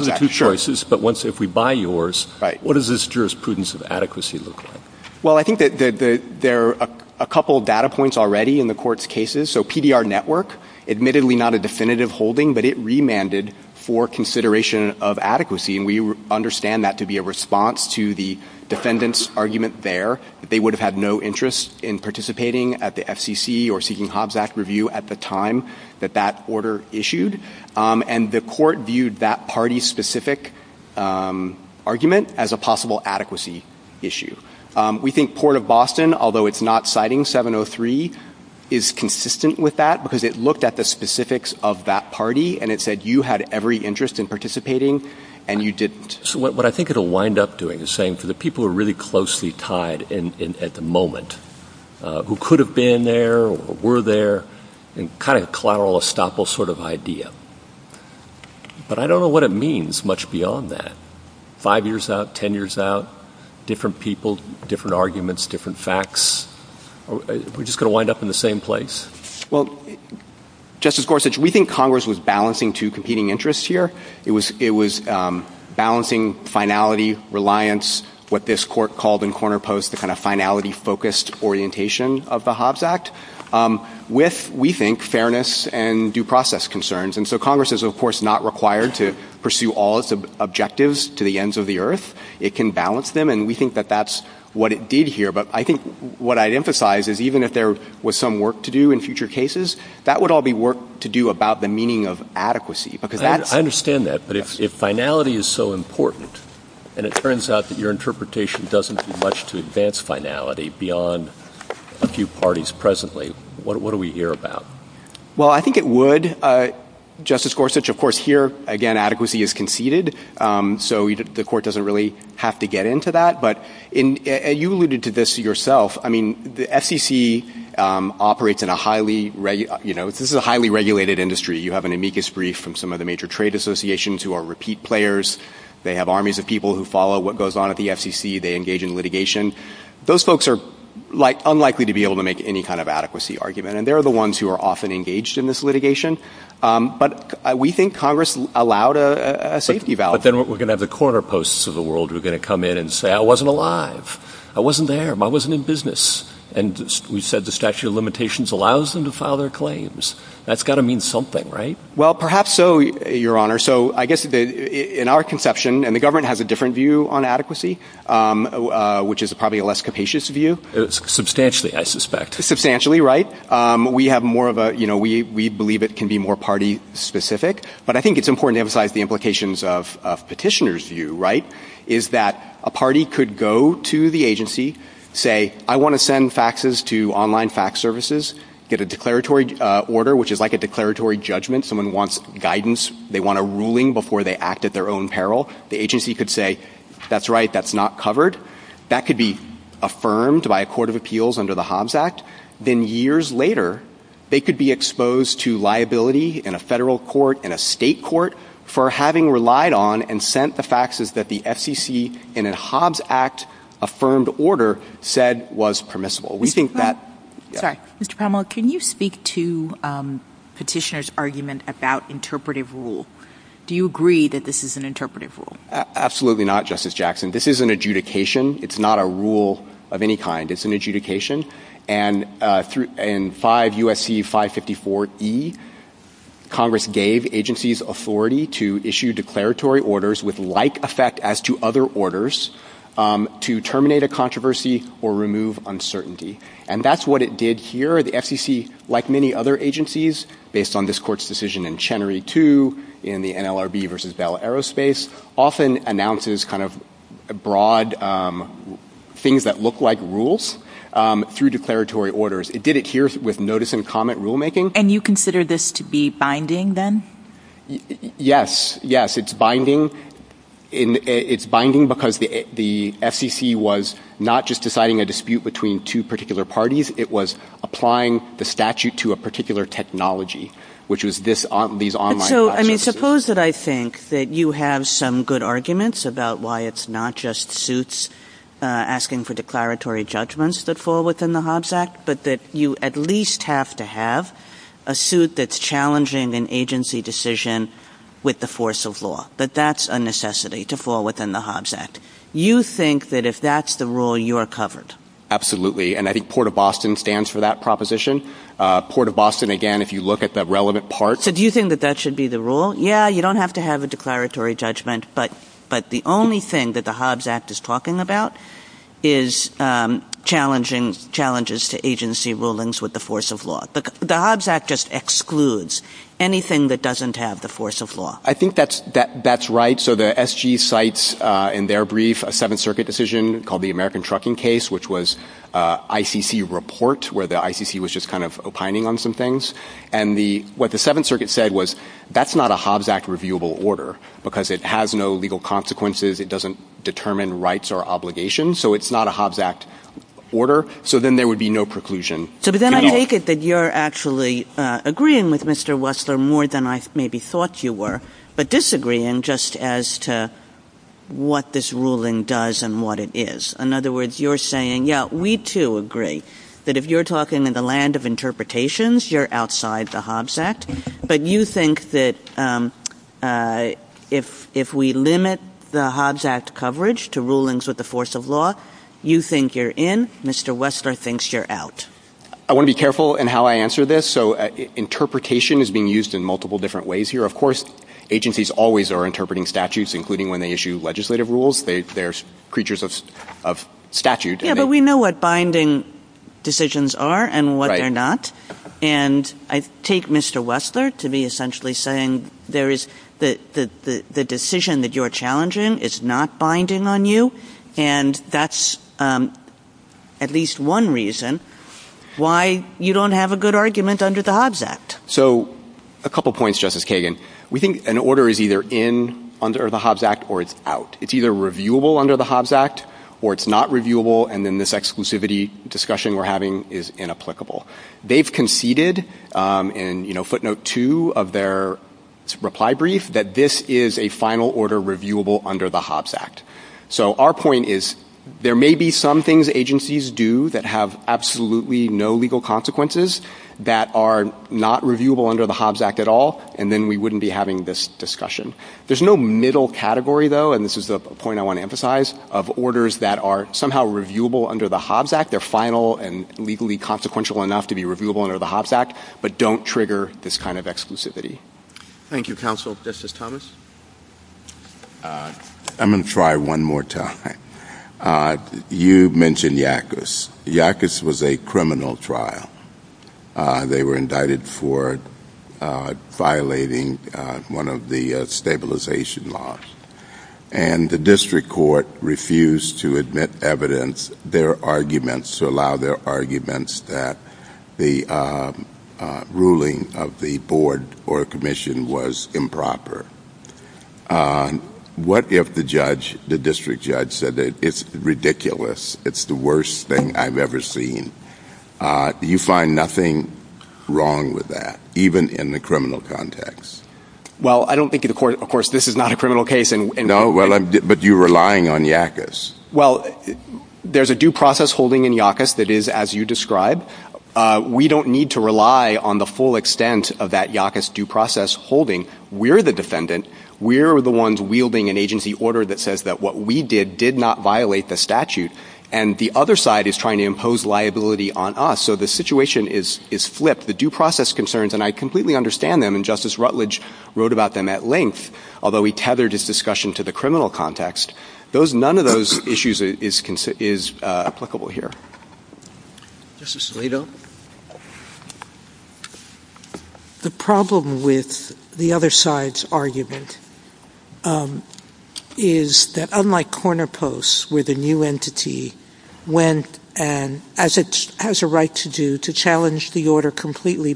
the two choices, but if we buy yours, what does this jurisprudence of adequacy look like? Well, I think there are a couple of data points already in the Court's cases. So PDR Network, admittedly not a definitive holding, but it remanded for consideration of adequacy, and we understand that to be a response to the defendant's argument there, that they would have had no interest in participating at the FCC or seeking Hobbes Act review at the time that that order issued. And the Court viewed that party-specific argument as a possible adequacy issue. We think Port of Boston, although it's not citing 703, is consistent with that because it looked at the specifics of that party and it said you had every interest in participating and you didn't. So what I think it'll wind up doing is saying for the people who are really closely tied at the moment, who could have been there or were there, and kind of collateral estoppel sort of idea. But I don't know what it means much beyond that. Five years out, ten years out, different people, different arguments, different facts. Are we just going to wind up in the same place? Well, Justice Gorsuch, we think Congress was balancing two competing interests here. It was balancing finality, reliance, what this Court called in Corner Post the kind of finality-focused orientation of the Hobbes Act with, we think, fairness and due process concerns. And so Congress is, of course, not required to pursue all its objectives to the ends of the earth. It can balance them, and we think that that's what it did here. But I think what I'd emphasize is even if there was some work to do in future cases, that would all be work to do about the meaning of adequacy. I understand that, but if finality is so important and it turns out that your interpretation doesn't do much to advance finality beyond a few parties presently, what are we here about? Well, I think it would, Justice Gorsuch. Of course, here, again, adequacy is conceded, so the Court doesn't really have to get into that. But you alluded to this yourself. I mean, the FCC operates in a highly, you know, this is a highly regulated industry. You have an amicus brief from some of the major trade associations who are repeat players. They have armies of people who follow what goes on at the FCC. They engage in litigation. Those folks are unlikely to be able to make any kind of adequacy argument, and they're the ones who are often engaged in this litigation. But we think Congress allowed a safety valve. But then we're going to have the corner posts of the world who are going to come in and say, I wasn't alive, I wasn't there, I wasn't in business. And we said the statute of limitations allows them to file their claims. That's got to mean something, right? Well, perhaps so, Your Honor. So I guess in our conception, and the government has a different view on adequacy, which is probably a less capacious view. Substantially, I suspect. Substantially, right? We have more of a, you know, we believe it can be more party specific. But I think it's important to emphasize the implications of petitioner's view, right, is that a party could go to the agency, say, I want to send faxes to online fax services, get a declaratory order, which is like a declaratory judgment. Someone wants guidance. They want a ruling before they act at their own peril. The agency could say, that's right, that's not covered. That could be affirmed by a court of appeals under the Hobbs Act. Then years later, they could be exposed to liability in a federal court, in a state court, for having relied on and sent the faxes that the FCC in a Hobbs Act affirmed order said was permissible. We think that... Sorry, Mr. Pamela, can you speak to petitioner's argument about interpretive rule? Do you agree that this is an interpretive rule? Absolutely not, Justice Jackson. This is an adjudication. It's not a rule of any kind. It's an adjudication. And in 5 U.S.C. 554E, Congress gave agencies authority to issue declaratory orders with like effect as to other orders to terminate a controversy or remove uncertainty. And that's what it did here. The FCC, like many other agencies, based on this court's decision in Chenery 2, in the NLRB versus Bell Aerospace, often announces kind of broad things that look like rules through declaratory orders. It did it here with notice and comment rulemaking. And you consider this to be binding then? Yes, yes, it's binding. It's binding because the FCC was not just deciding a dispute between two particular parties. It was applying the statute to a particular technology, which was these online... So, I mean, suppose that I think that you have some good arguments about why it's not just suits asking for declaratory judgments that fall within the Hobbs Act, but that you at least have to have a suit that's challenging an agency decision with the force of law. But that's a necessity to fall within the Hobbs Act. You think that if that's the rule, you're covered? Absolutely, and I think Port of Boston stands for that proposition. Port of Boston, again, if you look at the relevant part... So, do you think that that should be the rule? Yeah, you don't have to have a declaratory judgment, but the only thing that the Hobbs Act is talking about is challenging challenges to agency rulings with the force of law. The Hobbs Act just excludes anything that doesn't have the force of law. I think that's right. So, the SG cites in their brief a Seventh Circuit decision called the American Trucking Case, which was an ICC report where the ICC was just kind of opining on some things. And what the Seventh Circuit said was, that's not a Hobbs Act reviewable order because it has no legal consequences, it doesn't determine rights or obligations, so it's not a Hobbs Act order, so then there would be no preclusion. But then I take it that you're actually agreeing with Mr. Wessler more than I maybe thought you were, but disagreeing just as to what this ruling does and what it is. In other words, you're saying, yeah, we too agree that if you're talking in the land of interpretations, you're outside the Hobbs Act, but you think that if we limit the Hobbs Act coverage to rulings with the force of law, you think you're in, Mr. Wessler thinks you're out. I want to be careful in how I answer this, so interpretation is being used in multiple different ways here. Of course, agencies always are interpreting statutes, including when they issue legislative rules. They're creatures of statute. Yeah, but we know what binding decisions are and what they're not. And I take Mr. Wessler to be essentially saying the decision that you're challenging is not binding on you, and that's at least one reason why you don't have a good argument under the Hobbs Act. So a couple points, Justice Kagan. We think an order is either in under the Hobbs Act or it's out. It's either reviewable under the Hobbs Act or it's not reviewable, and then this exclusivity discussion we're having is inapplicable. They've conceded in footnote 2 of their reply brief that this is a final order reviewable under the Hobbs Act. So our point is there may be some things agencies do that have absolutely no legal consequences that are not reviewable under the Hobbs Act at all, and then we wouldn't be having this discussion. There's no middle category, though, and this is the point I want to emphasize, of orders that are somehow reviewable under the Hobbs Act. They're final and legally consequential enough to be reviewable under the Hobbs Act, but don't trigger this kind of exclusivity. Thank you, counsel. Justice Thomas. I'm going to try one more time. You mentioned YACUS. YACUS was a criminal trial. They were indicted for violating one of the stabilization laws, and the district court refused to admit evidence. Their arguments allow their arguments that the ruling of the board or commission was improper. What if the district judge said, It's ridiculous. It's the worst thing I've ever seen. Do you find nothing wrong with that, even in the criminal context? Well, I don't think, of course, this is not a criminal case. No, but you're relying on YACUS. Well, there's a due process holding in YACUS that is as you describe. We don't need to rely on the full extent of that YACUS due process holding. We're the defendant. We're the ones wielding an agency order that says that what we did did not violate the statute, and the other side is trying to impose liability on us, so the situation is flipped. The due process concerns, and I completely understand them, and Justice Rutledge wrote about them at length, although he tethered his discussion to the criminal context. None of those issues is applicable here. Justice Alito. The problem with the other side's argument is that unlike corner posts, where the new entity went and has a right to do, to challenge the order completely,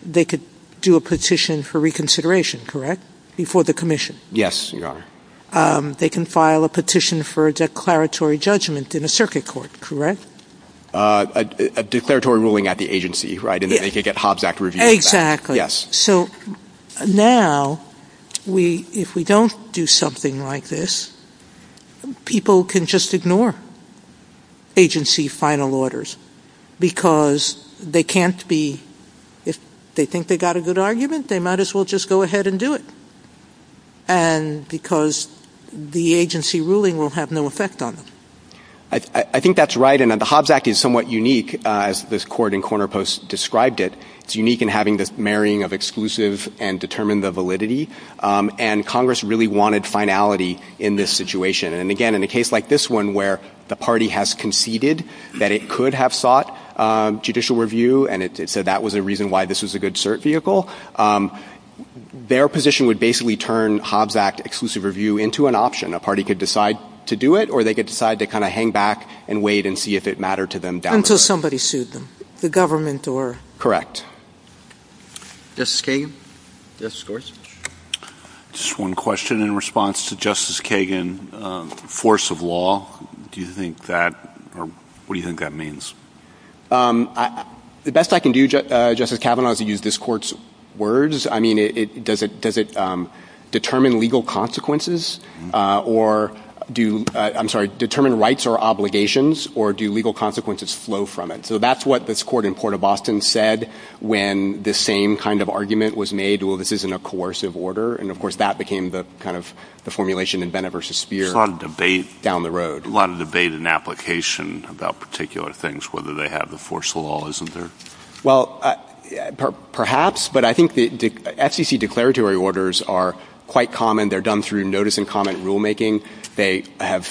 they could do a petition for reconsideration, correct, before the commission? Yes, Your Honor. They can file a petition for a declaratory judgment in a circuit court, correct? A declaratory ruling at the agency, right, and they can get Hobbs Act review. Exactly. Yes. So now, if we don't do something like this, people can just ignore agency final orders because they can't be, if they think they got a good argument, they might as well just go ahead and do it, and because the agency ruling will have no effect on them. I think that's right, and the Hobbs Act is somewhat unique, as this court in corner posts described it. It's unique in having the marrying of exclusive and determine the validity, and Congress really wanted finality in this situation, and again, in a case like this one, where the party has conceded that it could have sought judicial review and it said that was a reason why this was a good cert vehicle, their position would basically turn Hobbs Act exclusive review into an option. A party could decide to do it, or they could decide to kind of hang back and wait and see if it mattered to them down there. Until somebody sued them, the government or... Correct. Justice Kagan? Just one question in response to Justice Kagan, force of law, do you think that, or what do you think that means? The best I can do, Justice Kavanaugh, is to use this court's words. I mean, does it determine legal consequences, or do, I'm sorry, determine rights or obligations, or do legal consequences flow from it? So that's what this court in Port of Boston said when the same kind of argument was made, well, this isn't a coercive order, and of course that became the kind of formulation in Bennett v. Speer down the road. It's a lot of debate and application about particular things, whether they have the force of law, isn't there? Well, perhaps, but I think the FCC declaratory orders are quite common. They're done through notice and comment rulemaking. They have,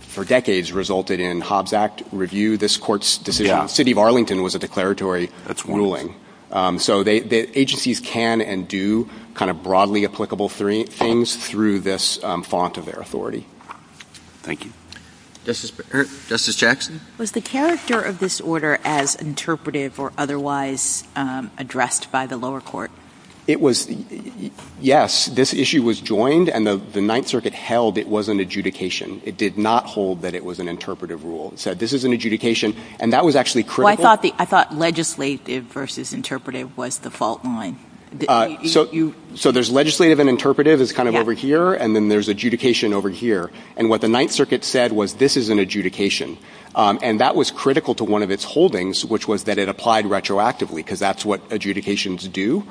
for decades, resulted in Hobbs Act review. This court's decision, the city of Arlington was a declaratory ruling. So agencies can and do kind of broadly applicable things through this font of their authority. Thank you. Justice Jackson? Was the character of this order as interpretive or otherwise addressed by the lower court? It was, yes, this issue was joined, and the Ninth Circuit held it was an adjudication. It did not hold that it was an interpretive rule. It said, this is an adjudication, and that was actually critical. I thought legislative versus interpretive was the fault line. So there's legislative and interpretive is kind of over here, and then there's adjudication over here. And what the Ninth Circuit said was, this is an adjudication. And that was critical to one of its holdings, which was that it applied retroactively because that's what adjudications do.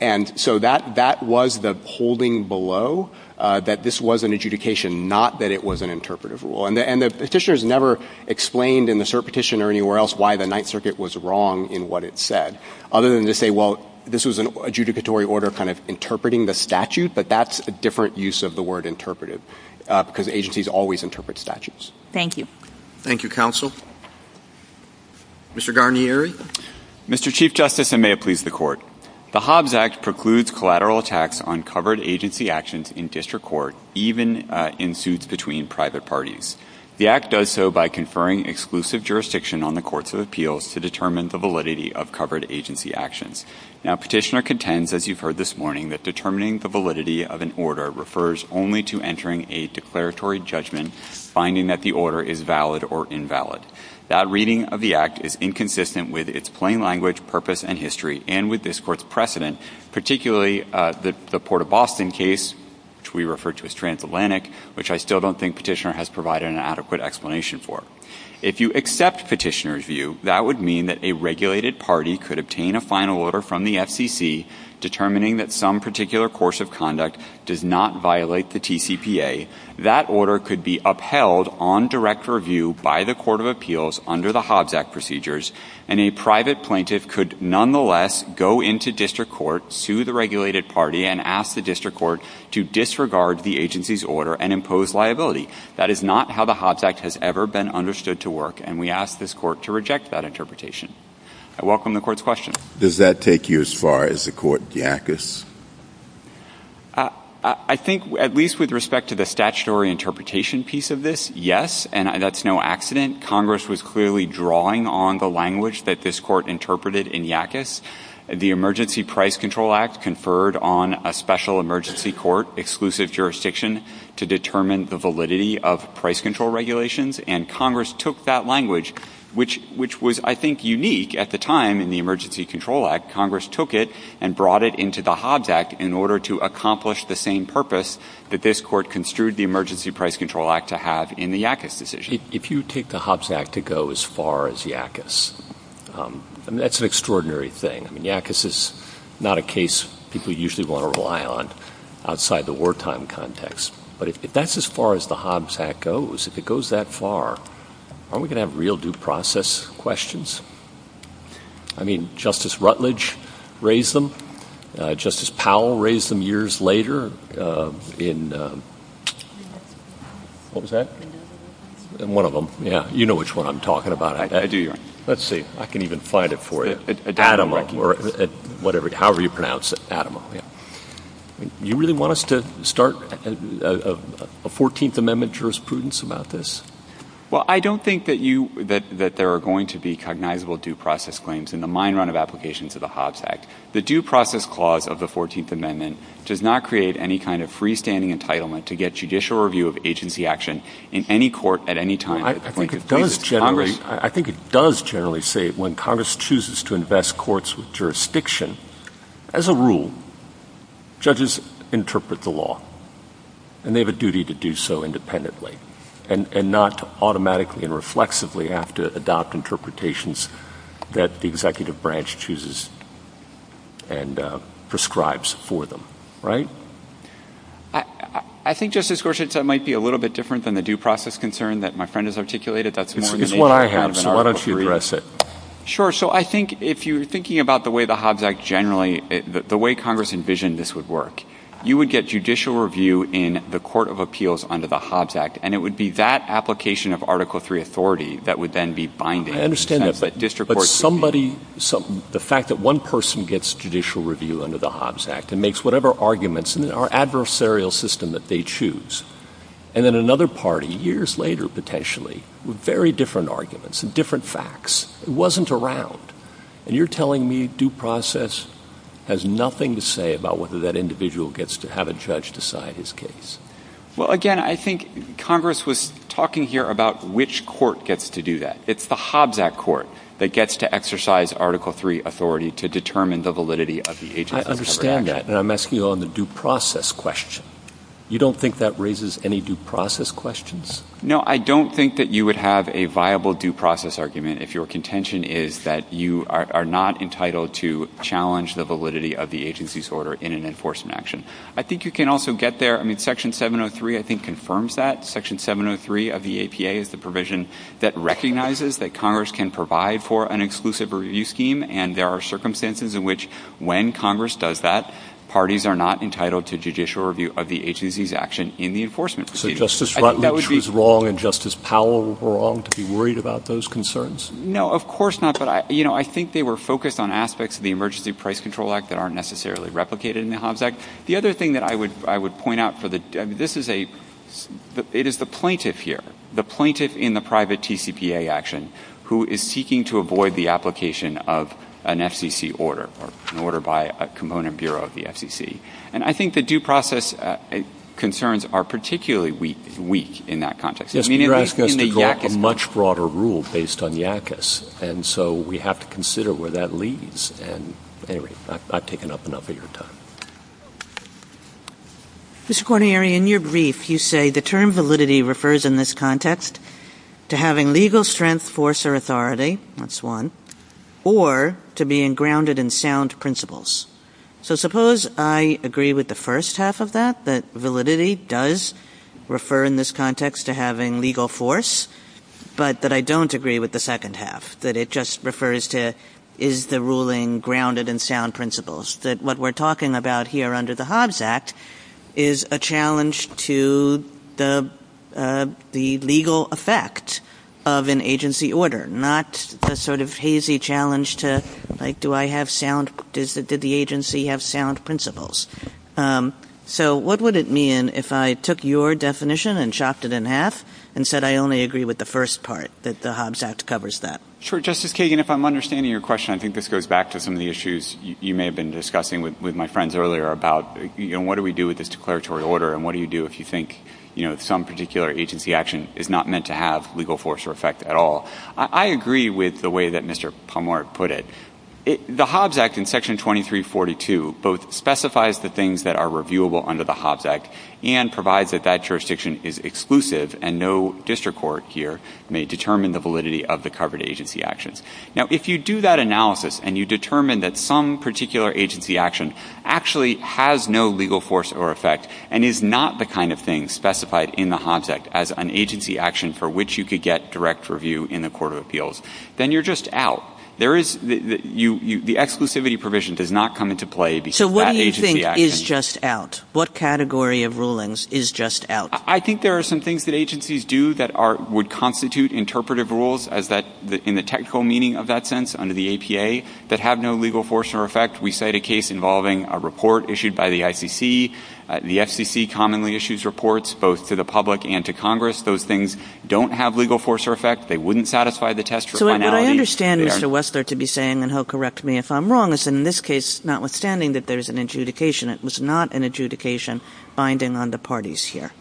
And so that was the holding below that this was an adjudication, not that it was an interpretive rule. And the petitioners never explained in the cert petition or anywhere else why the Ninth Circuit was wrong in what it said, other than to say, well, this was an adjudicatory order kind of interpreting the statute, but that's a different use of the word interpretive because agencies always interpret statutes. Thank you. Thank you, counsel. Mr. Garnieri? Mr. Chief Justice, and may it please the Court, the Hobbs Act precludes collateral attacks on covered agency actions in district court, even in suits between private parties. The Act does so by conferring exclusive jurisdiction on the courts of appeals to determine the validity of covered agency actions. Now, petitioner contends, as you've heard this morning, that determining the validity of an order refers only to entering a declaratory judgment, finding that the order is valid or invalid. That reading of the Act is inconsistent with its plain language, purpose, and history, and with this Court's precedent, particularly the Port of Boston case, which we refer to as Transatlantic, which I still don't think petitioner has provided an adequate explanation for. If you accept petitioner's view, that would mean that a regulated party could obtain a final order from the FCC determining that some particular course of conduct does not violate the TCPA. That order could be upheld on direct review by the Court of Appeals under the Hobbs Act procedures, and a private plaintiff could nonetheless go into district court, sue the regulated party, and ask the district court to disregard the agency's order and impose liability. That is not how the Hobbs Act has ever been understood to work, and we ask this Court to reject that interpretation. I welcome the Court's questions. Does that take you as far as the court in Yakis? I think, at least with respect to the statutory interpretation piece of this, yes, and that's no accident. Congress was clearly drawing on the language that this Court interpreted in Yakis. The Emergency Price Control Act conferred on a special emergency court, exclusive jurisdiction, to determine the validity of price control regulations, and Congress took that language, which was, I think, unique at the time in the Emergency Control Act. Congress took it and brought it into the Hobbs Act in order to accomplish the same purpose that this Court construed the Emergency Price Control Act to have in the Yakis decision. If you take the Hobbs Act to go as far as Yakis, that's an extraordinary thing. I mean, Yakis is not a case people usually want to rely on outside the wartime context, but if that's as far as the Hobbs Act goes, if it goes that far, aren't we going to have real due process questions? I mean, Justice Rutledge raised them. Justice Powell raised them years later in... What was that? In one of them, yeah. You know which one I'm talking about. I do. Let's see. I can even find it for you. Adama or whatever, however you pronounce it. Adama, yeah. Do you really want us to start a 14th Amendment jurisprudence about this? Well, I don't think that there are going to be cognizable due process claims in the mine run of applications of the Hobbs Act. The due process clause of the 14th Amendment does not create any kind of freestanding entitlement to get judicial review of agency action in any court at any time. I think it does generally say when Congress chooses to invest courts with jurisdiction, as a rule, judges interpret the law, and they have a duty to do so independently and not automatically and reflexively have to adopt interpretations that the executive branch chooses and prescribes for them, right? I think, Justice Gorsuch, that might be a little bit different than the due process concern that my friend has articulated. It's what I have, so why don't you address it? Sure, so I think if you're thinking about the way the Hobbs Act generally, the way Congress envisioned this would work, you would get judicial review in the Court of Appeals under the Hobbs Act, and it would be that application of Article III authority that would then be binded. I understand that, but somebody, the fact that one person gets judicial review under the Hobbs Act and makes whatever arguments in our adversarial system that they choose, and then another party, years later, potentially, with very different arguments and different facts, it wasn't around, and you're telling me due process has nothing to say about whether that individual gets to have a judge decide his case. Well, again, I think Congress was talking here about which court gets to do that. It's the Hobbs Act court that gets to exercise Article III authority to determine the validity of the agency. I understand that, and I'm asking you on the due process question. You don't think that raises any due process questions? No, I don't think that you would have a viable due process argument if your contention is that you are not entitled to challenge the validity of the agency's order in an enforcement action. I think you can also get there, I mean, Section 703, I think, confirms that. Section 703 of the APA is the provision that recognizes that Congress can provide for an exclusive review scheme, and there are circumstances in which, when Congress does that, parties are not entitled to judicial review of the agency's action in the enforcement scheme. So Justice Rutledge was wrong, and Justice Powell was wrong to be worried about those concerns? No, of course not. You know, I think they were focused on aspects of the Emergency Price Control Act that aren't necessarily replicated in the Hobbs Act. The other thing that I would point out for the... This is a... It is the plaintiff here, the plaintiff in the private TCPA action, who is seeking to avoid the application of an FCC order, or an order by a component bureau of the FCC. And I think the due process concerns are particularly weak in that context. Yes, but you're asking us to go to a much broader rule based on YACAS, and so we have to consider where that leads. And, anyway, I've taken up enough of your time. Ms. Cornieri, in your brief, you say, the term validity refers, in this context, to having legal strength, force, or authority. That's one. Or to being grounded in sound principles. So suppose I agree with the first half of that, that validity does refer, in this context, to having legal force, but that I don't agree with the second half, that it just refers to, is the ruling grounded in sound principles? That what we're talking about here under the Hobbs Act is a challenge to the legal effect of an agency order, not a sort of hazy challenge to, like, did the agency have sound principles? So what would it mean if I took your definition and chopped it in half and said I only agree with the first part, that the Hobbs Act covers that? Sure, Justice Kagan, if I'm understanding your question, I think this goes back to some of the issues you may have been discussing with my friends earlier about what do we do with this declaratory order and what do you do if you think some particular agency action is not meant to have legal force or effect at all. I agree with the way that Mr. Palmore put it. The Hobbs Act in Section 2342 both specifies the things that are reviewable under the Hobbs Act and provides that that jurisdiction is exclusive and no district court here may determine the validity of the covered agency actions. Now, if you do that analysis and you determine that some particular agency action actually has no legal force or effect and is not the kind of thing specified in the Hobbs Act as an agency action for which you could get direct review in a court of appeals, then you're just out. The exclusivity provision does not come into play because that agency action... So what do you think is just out? What category of rulings is just out? I think there are some things that agencies do that would constitute interpretive rules in the technical meaning of that sense under the APA that have no legal force or effect. We cite a case involving a report issued by the ICC. The FCC commonly issues reports both to the public and to Congress. Those things don't have legal force or effect. They wouldn't satisfy the test for finality. So what I understand Mr. Wessler to be saying, and he'll correct me if I'm wrong, is in this case, notwithstanding that there's an adjudication, it was not an adjudication binding on the parties here.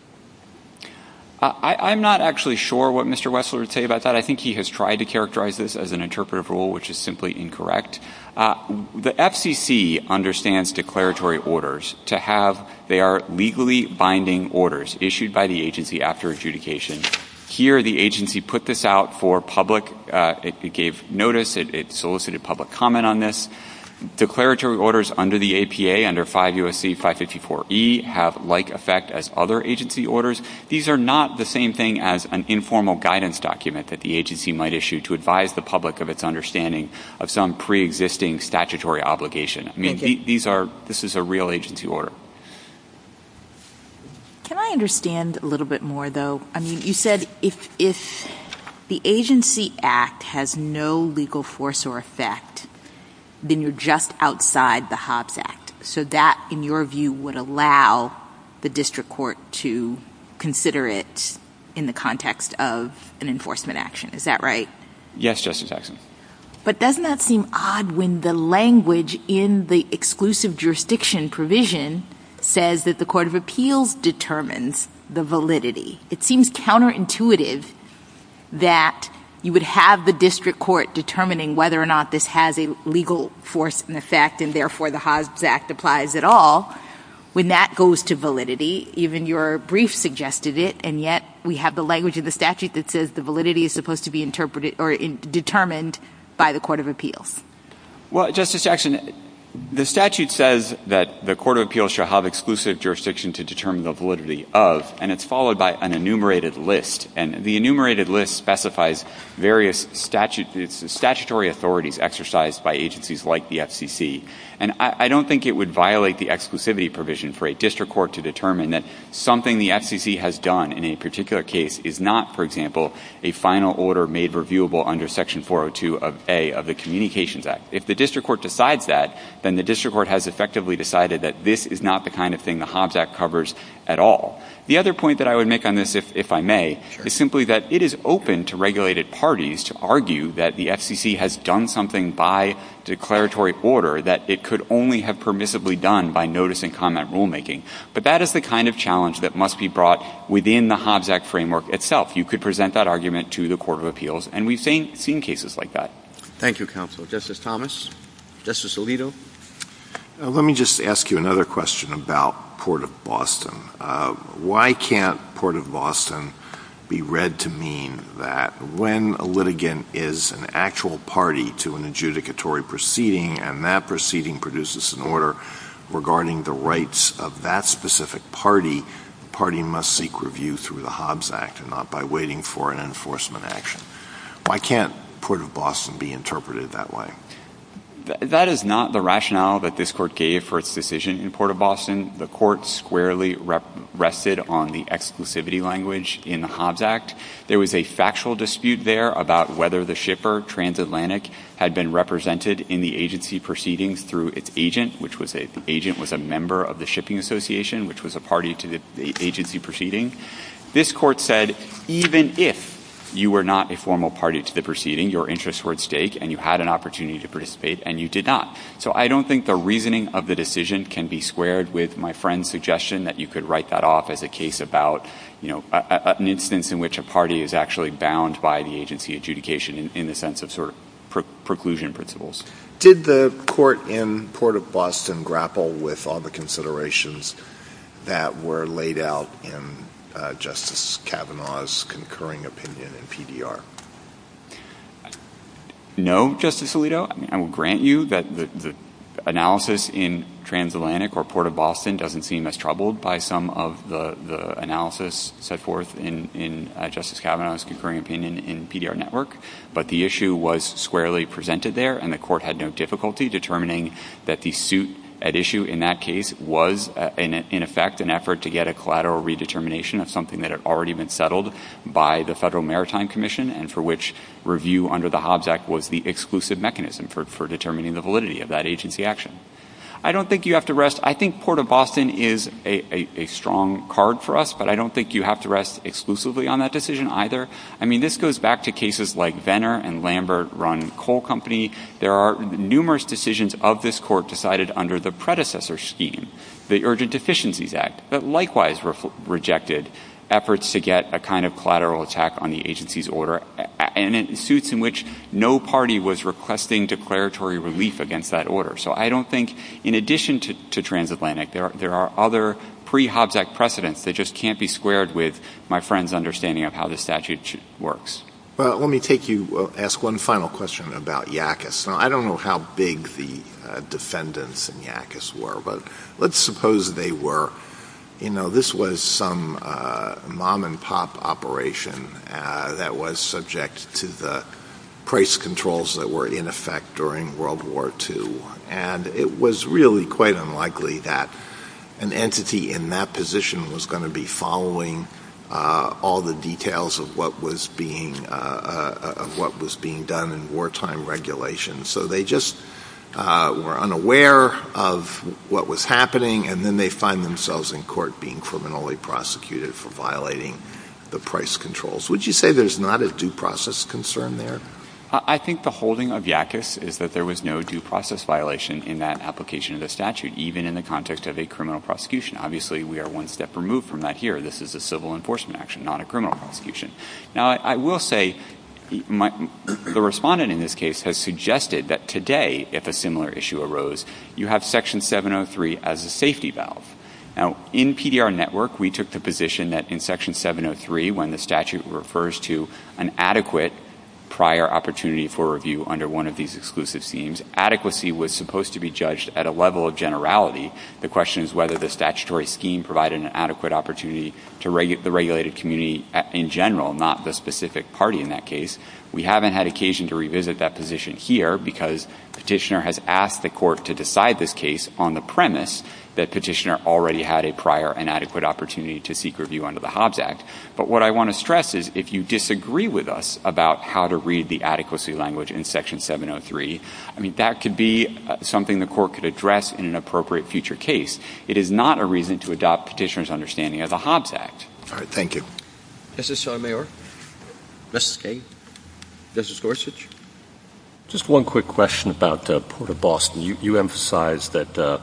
I'm not actually sure what Mr. Wessler would say about that. I think he has tried to characterize this as an interpretive rule, which is simply incorrect. The FCC understands declaratory orders to have their legally binding orders issued by the agency after adjudication. Here, the agency put this out for public. It gave notice. It solicited public comment on this. Declaratory orders under the APA, under 5 U.S.C. 554E, have like effect as other agency orders. These are not the same thing as an informal guidance document that the agency might issue to advise the public of its understanding of some preexisting statutory obligation. I mean, this is a real agency order. Can I understand a little bit more, though? I mean, you said if the agency act has no legal force or effect, then you're just outside the Hobbs Act. So that, in your view, would allow the district court to consider it in the context of an enforcement action. Is that right? Yes, Justice Eisen. But doesn't that seem odd when the language in the exclusive jurisdiction provision says that the court of appeals determines the validity? It seems counterintuitive that you would have the district court determining whether or not this has a legal force and effect and, therefore, the Hobbs Act applies at all. When that goes to validity, even your brief suggested it, and yet we have the language in the statute that says the validity is supposed to be determined by the court of appeals. Well, Justice Jackson, the statute says that the court of appeals shall have exclusive jurisdiction to determine the validity of, and it's followed by an enumerated list. And the enumerated list specifies various statutory authorities exercised by agencies like the FCC. And I don't think it would violate the exclusivity provision for a district court to determine that something the FCC has done in a particular case is not, for example, a final order made reviewable under Section 402 of A of the Communications Act. If the district court decides that, then the district court has effectively decided that this is not the kind of thing the Hobbs Act covers at all. The other point that I would make on this, if I may, is simply that it is open to regulated parties to argue that the FCC has done something by declaratory order that it could only have permissibly done by notice-and-comment rulemaking. But that is the kind of challenge that must be brought within the Hobbs Act framework itself. You could present that argument to the court of appeals, and we've seen cases like that. Thank you, counsel. Justice Thomas? Justice Alito? Let me just ask you another question about Port of Boston. Why can't Port of Boston be read to mean that when a litigant is an actual party to an adjudicatory proceeding and that proceeding produces an order regarding the rights of that specific party, the party must seek review through the Hobbs Act and not by waiting for an enforcement action? Why can't Port of Boston be interpreted that way? That is not the rationale that this court gave for its decision in Port of Boston. The court squarely rested on the exclusivity language in the Hobbs Act. There was a factual dispute there about whether the shipper, Transatlantic, had been represented in the agency proceeding through its agent, which the agent was a member of the shipping association, which was a party to the agency proceeding. This court said, even if you were not a formal party to the proceeding, your interests were at stake and you had an opportunity to participate and you did not. So I don't think the reasoning of the decision can be squared with my friend's suggestion that you could write that off as a case about, you know, an instance in which a party is actually bound by the agency adjudication in the sense of sort of preclusion principles. Did the court in Port of Boston grapple with all the considerations that were laid out in Justice Kavanaugh's concurring opinion in PDR? No, Justice Alito. I will grant you that the analysis in Transatlantic or Port of Boston doesn't seem as troubled by some of the analysis set forth in Justice Kavanaugh's concurring opinion in PDR Network, but the issue was squarely presented there and the court had no difficulty determining that the suit at issue in that case was in effect an effort to get a collateral redetermination of something that had already been settled by the Federal Maritime Commission and for which review under the Hobbs Act was the exclusive mechanism for determining the validity of that agency action. I don't think you have to rest, I think Port of Boston is a strong card for us, but I don't think you have to rest exclusively on that decision either. I mean, this goes back to cases like Venner and Lambert run coal company. There are numerous decisions of this court decided under the predecessor scheme, the Urgent Deficiencies Act, that likewise rejected efforts to get a kind of collateral attack on the agency's order and in suits in which no party was requesting declaratory relief against that order. So I don't think, in addition to Transatlantic, there are other pre-Hobbs Act precedents that just can't be squared with my friend's understanding of how the statute works. Well, let me take you, ask one final question about Yakis. Now, I don't know how big the defendants in Yakis were, but let's suppose they were, you know, this was some mom-and-pop operation that was subject to the price controls that were in effect during World War II, and it was really quite unlikely that an entity in that position was going to be following all the details of what was being, of what was being done in wartime regulation. So they just were unaware of what was happening, and then they find themselves in court being criminally prosecuted for violating the price controls. Would you say there's not a due process concern there? I think the holding of Yakis is that there was no due process violation in that application of the statute, even in the context of a criminal prosecution. Obviously, we are one step removed from that here. This is a civil enforcement action, not a criminal prosecution. Now, I will say, the respondent in this case has suggested that today, if a similar issue arose, you have Section 703 as a safety valve. Now, in PDR Network, we took the position that in Section 703, when the statute refers to an adequate prior opportunity for review under one of these exclusive schemes, adequacy was supposed to be judged at a level of generality. The question is whether the statutory scheme provided an adequate opportunity to the regulated community in general, not the specific party in that case. We haven't had occasion to revisit that position here because Petitioner has asked the court to decide this case on the premise that Petitioner already had a prior and adequate opportunity to seek review under the Hobbs Act. But what I want to stress is if you disagree with us about how to read the adequacy language in Section 703, that could be something the court could address in an appropriate future case. It is not a reason to adopt Petitioner's understanding of the Hobbs Act. All right, thank you. Justice Sotomayor? Justice Kagan? Justice Gorsuch? Just one quick question about the Port of Boston. You emphasized that the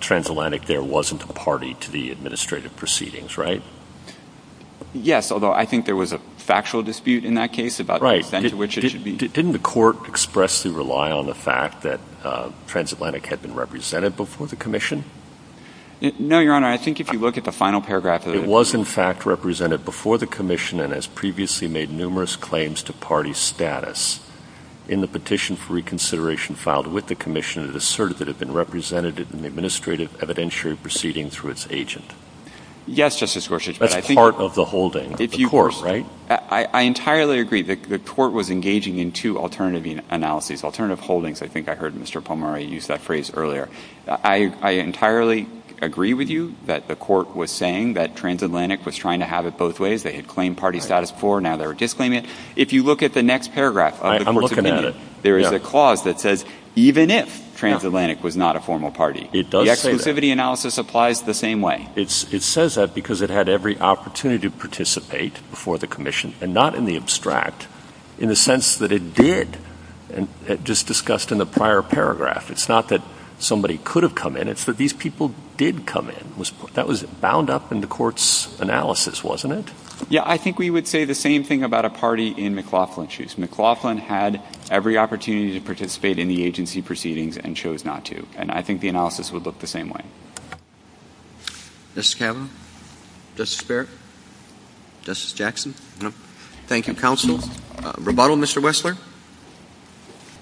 transatlantic there wasn't a party to the administrative proceedings, right? Yes, although I think there was a factual dispute in that case about the extent to which it should be. Didn't the court expressly rely on the fact that transatlantic had been represented before the commission? No, Your Honor. I think if you look at the final paragraph... It was, in fact, represented before the commission and has previously made numerous claims to party status. In the petition for reconsideration filed with the commission, it asserted that it had been represented in the administrative evidentiary proceedings through its agent. Yes, Justice Gorsuch, but I think... That's part of the holding, the court, right? I entirely agree. The court was engaging in two alternative analyses, alternative holdings, I think I heard Mr. Palmari use that phrase earlier. I entirely agree with you that the court was saying that transatlantic was trying to have it both ways. They had claimed party status before, now they're disclaiming it. If you look at the next paragraph... I'm looking at it. There is a clause that says even if transatlantic was not a formal party. It does say that. The exclusivity analysis applies the same way. It says that because it had every opportunity to participate before the commission and not in the abstract in the sense that it did just discussed in the prior paragraph. It's not that somebody could have come in. It's that these people did come in. That was bound up in the court's analysis, wasn't it? Yeah, I think we would say the same thing about a party in McLaughlin's case. McLaughlin had every opportunity to participate in the agency proceedings and chose not to. And I think the analysis would look the same way. Mr. Cavanaugh? Justice Barrett? Justice Jackson? No. Thank you, counsel. Rebuttal, Mr. Wessler?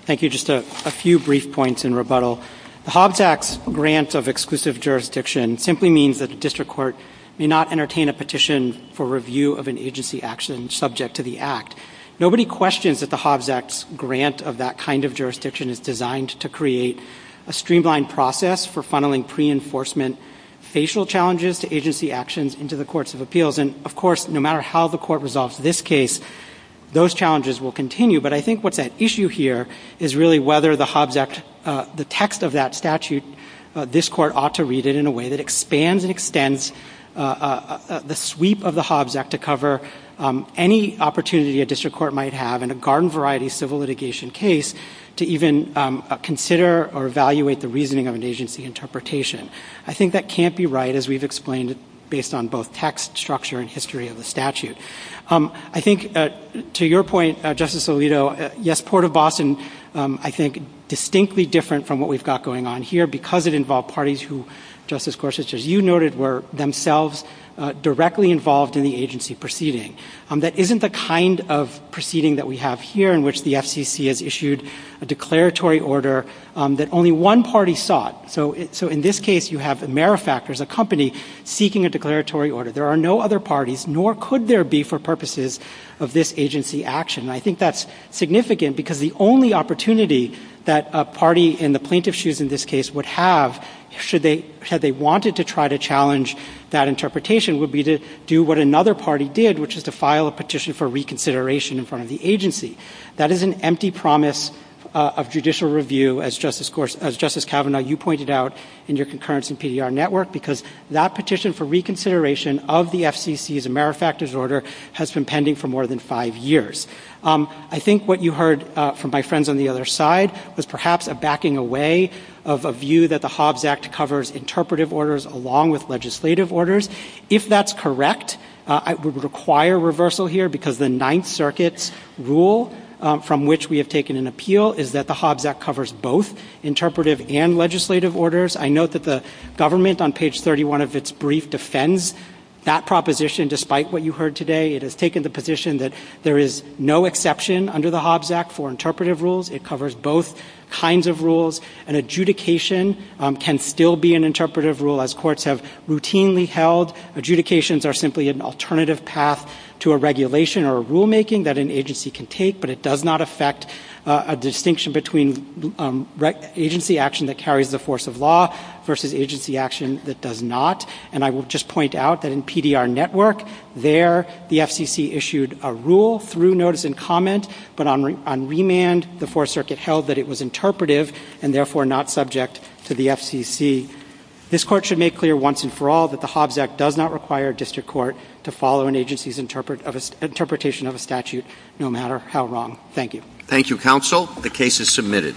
Thank you. Just a few brief points in rebuttal. The Hobbs Act's grant of exclusive jurisdiction simply means that the district court may not entertain a petition for review of an agency action subject to the Act. Nobody questions that the Hobbs Act's grant of that kind of jurisdiction is designed to create a streamlined process for funneling pre-enforcement facial challenges to agency actions into the courts of appeals. And, of course, no matter how the court resolves this case, those challenges will continue. But I think what's at issue here is really whether the Hobbs Act and the text of that statute this court ought to read it in a way that expands and extends the sweep of the Hobbs Act to cover any opportunity a district court might have in a garden-variety civil litigation case to even consider or evaluate the reasoning of an agency interpretation. I think that can't be right, as we've explained, based on both text, structure, and history of the statute. I think, to your point, Justice Alito, yes, Port of Boston, I think, distinctly different from what we've got going on here because it involved parties who, Justice Gorsuch, as you noted, were themselves directly involved in the agency proceeding. That isn't the kind of proceeding that we have here in which the FCC has issued a declaratory order that only one party sought. So, in this case, you have AmeriFactors, a company, seeking a declaratory order. There are no other parties, nor could there be for purposes of this agency action. And I think that's significant because the only opportunity that a party in the plaintiff's shoes in this case would have should they wanted to try to challenge that interpretation would be to do what another party did, which is to file a petition for reconsideration in front of the agency. That is an empty promise of judicial review as Justice Kavanaugh, you pointed out, in your concurrence in PDR Network because that petition for reconsideration of the FCC's AmeriFactors order has been pending for more than five years. I think what you heard from my friends on the other side was perhaps a backing away of a view that the Hobbs Act covers interpretive orders along with legislative orders. If that's correct, I would require reversal here because the Ninth Circuit's rule from which we have taken an appeal is that the Hobbs Act covers both interpretive and legislative orders. I note that the government on page 31 of its brief defends that proposition despite what you heard today. It has taken the position that there is no exception under the Hobbs Act for interpretive rules. It covers both kinds of rules. An adjudication can still be an interpretive rule as courts have routinely held. Adjudications are simply an alternative path to a regulation or a rulemaking that an agency can take but it does not affect a distinction between agency action that carries the force of law versus agency action that does not. And I will just point out that in PDR Network, there the FCC issued a rule through notice and comment but on remand, the Fourth Circuit held that it was interpretive and therefore not subject to the FCC. This Court should make clear once and for all that the Hobbs Act does not require a district court to follow an agency's interpretation of a statute no matter how wrong. Thank you. Thank you, Counsel. The case is submitted.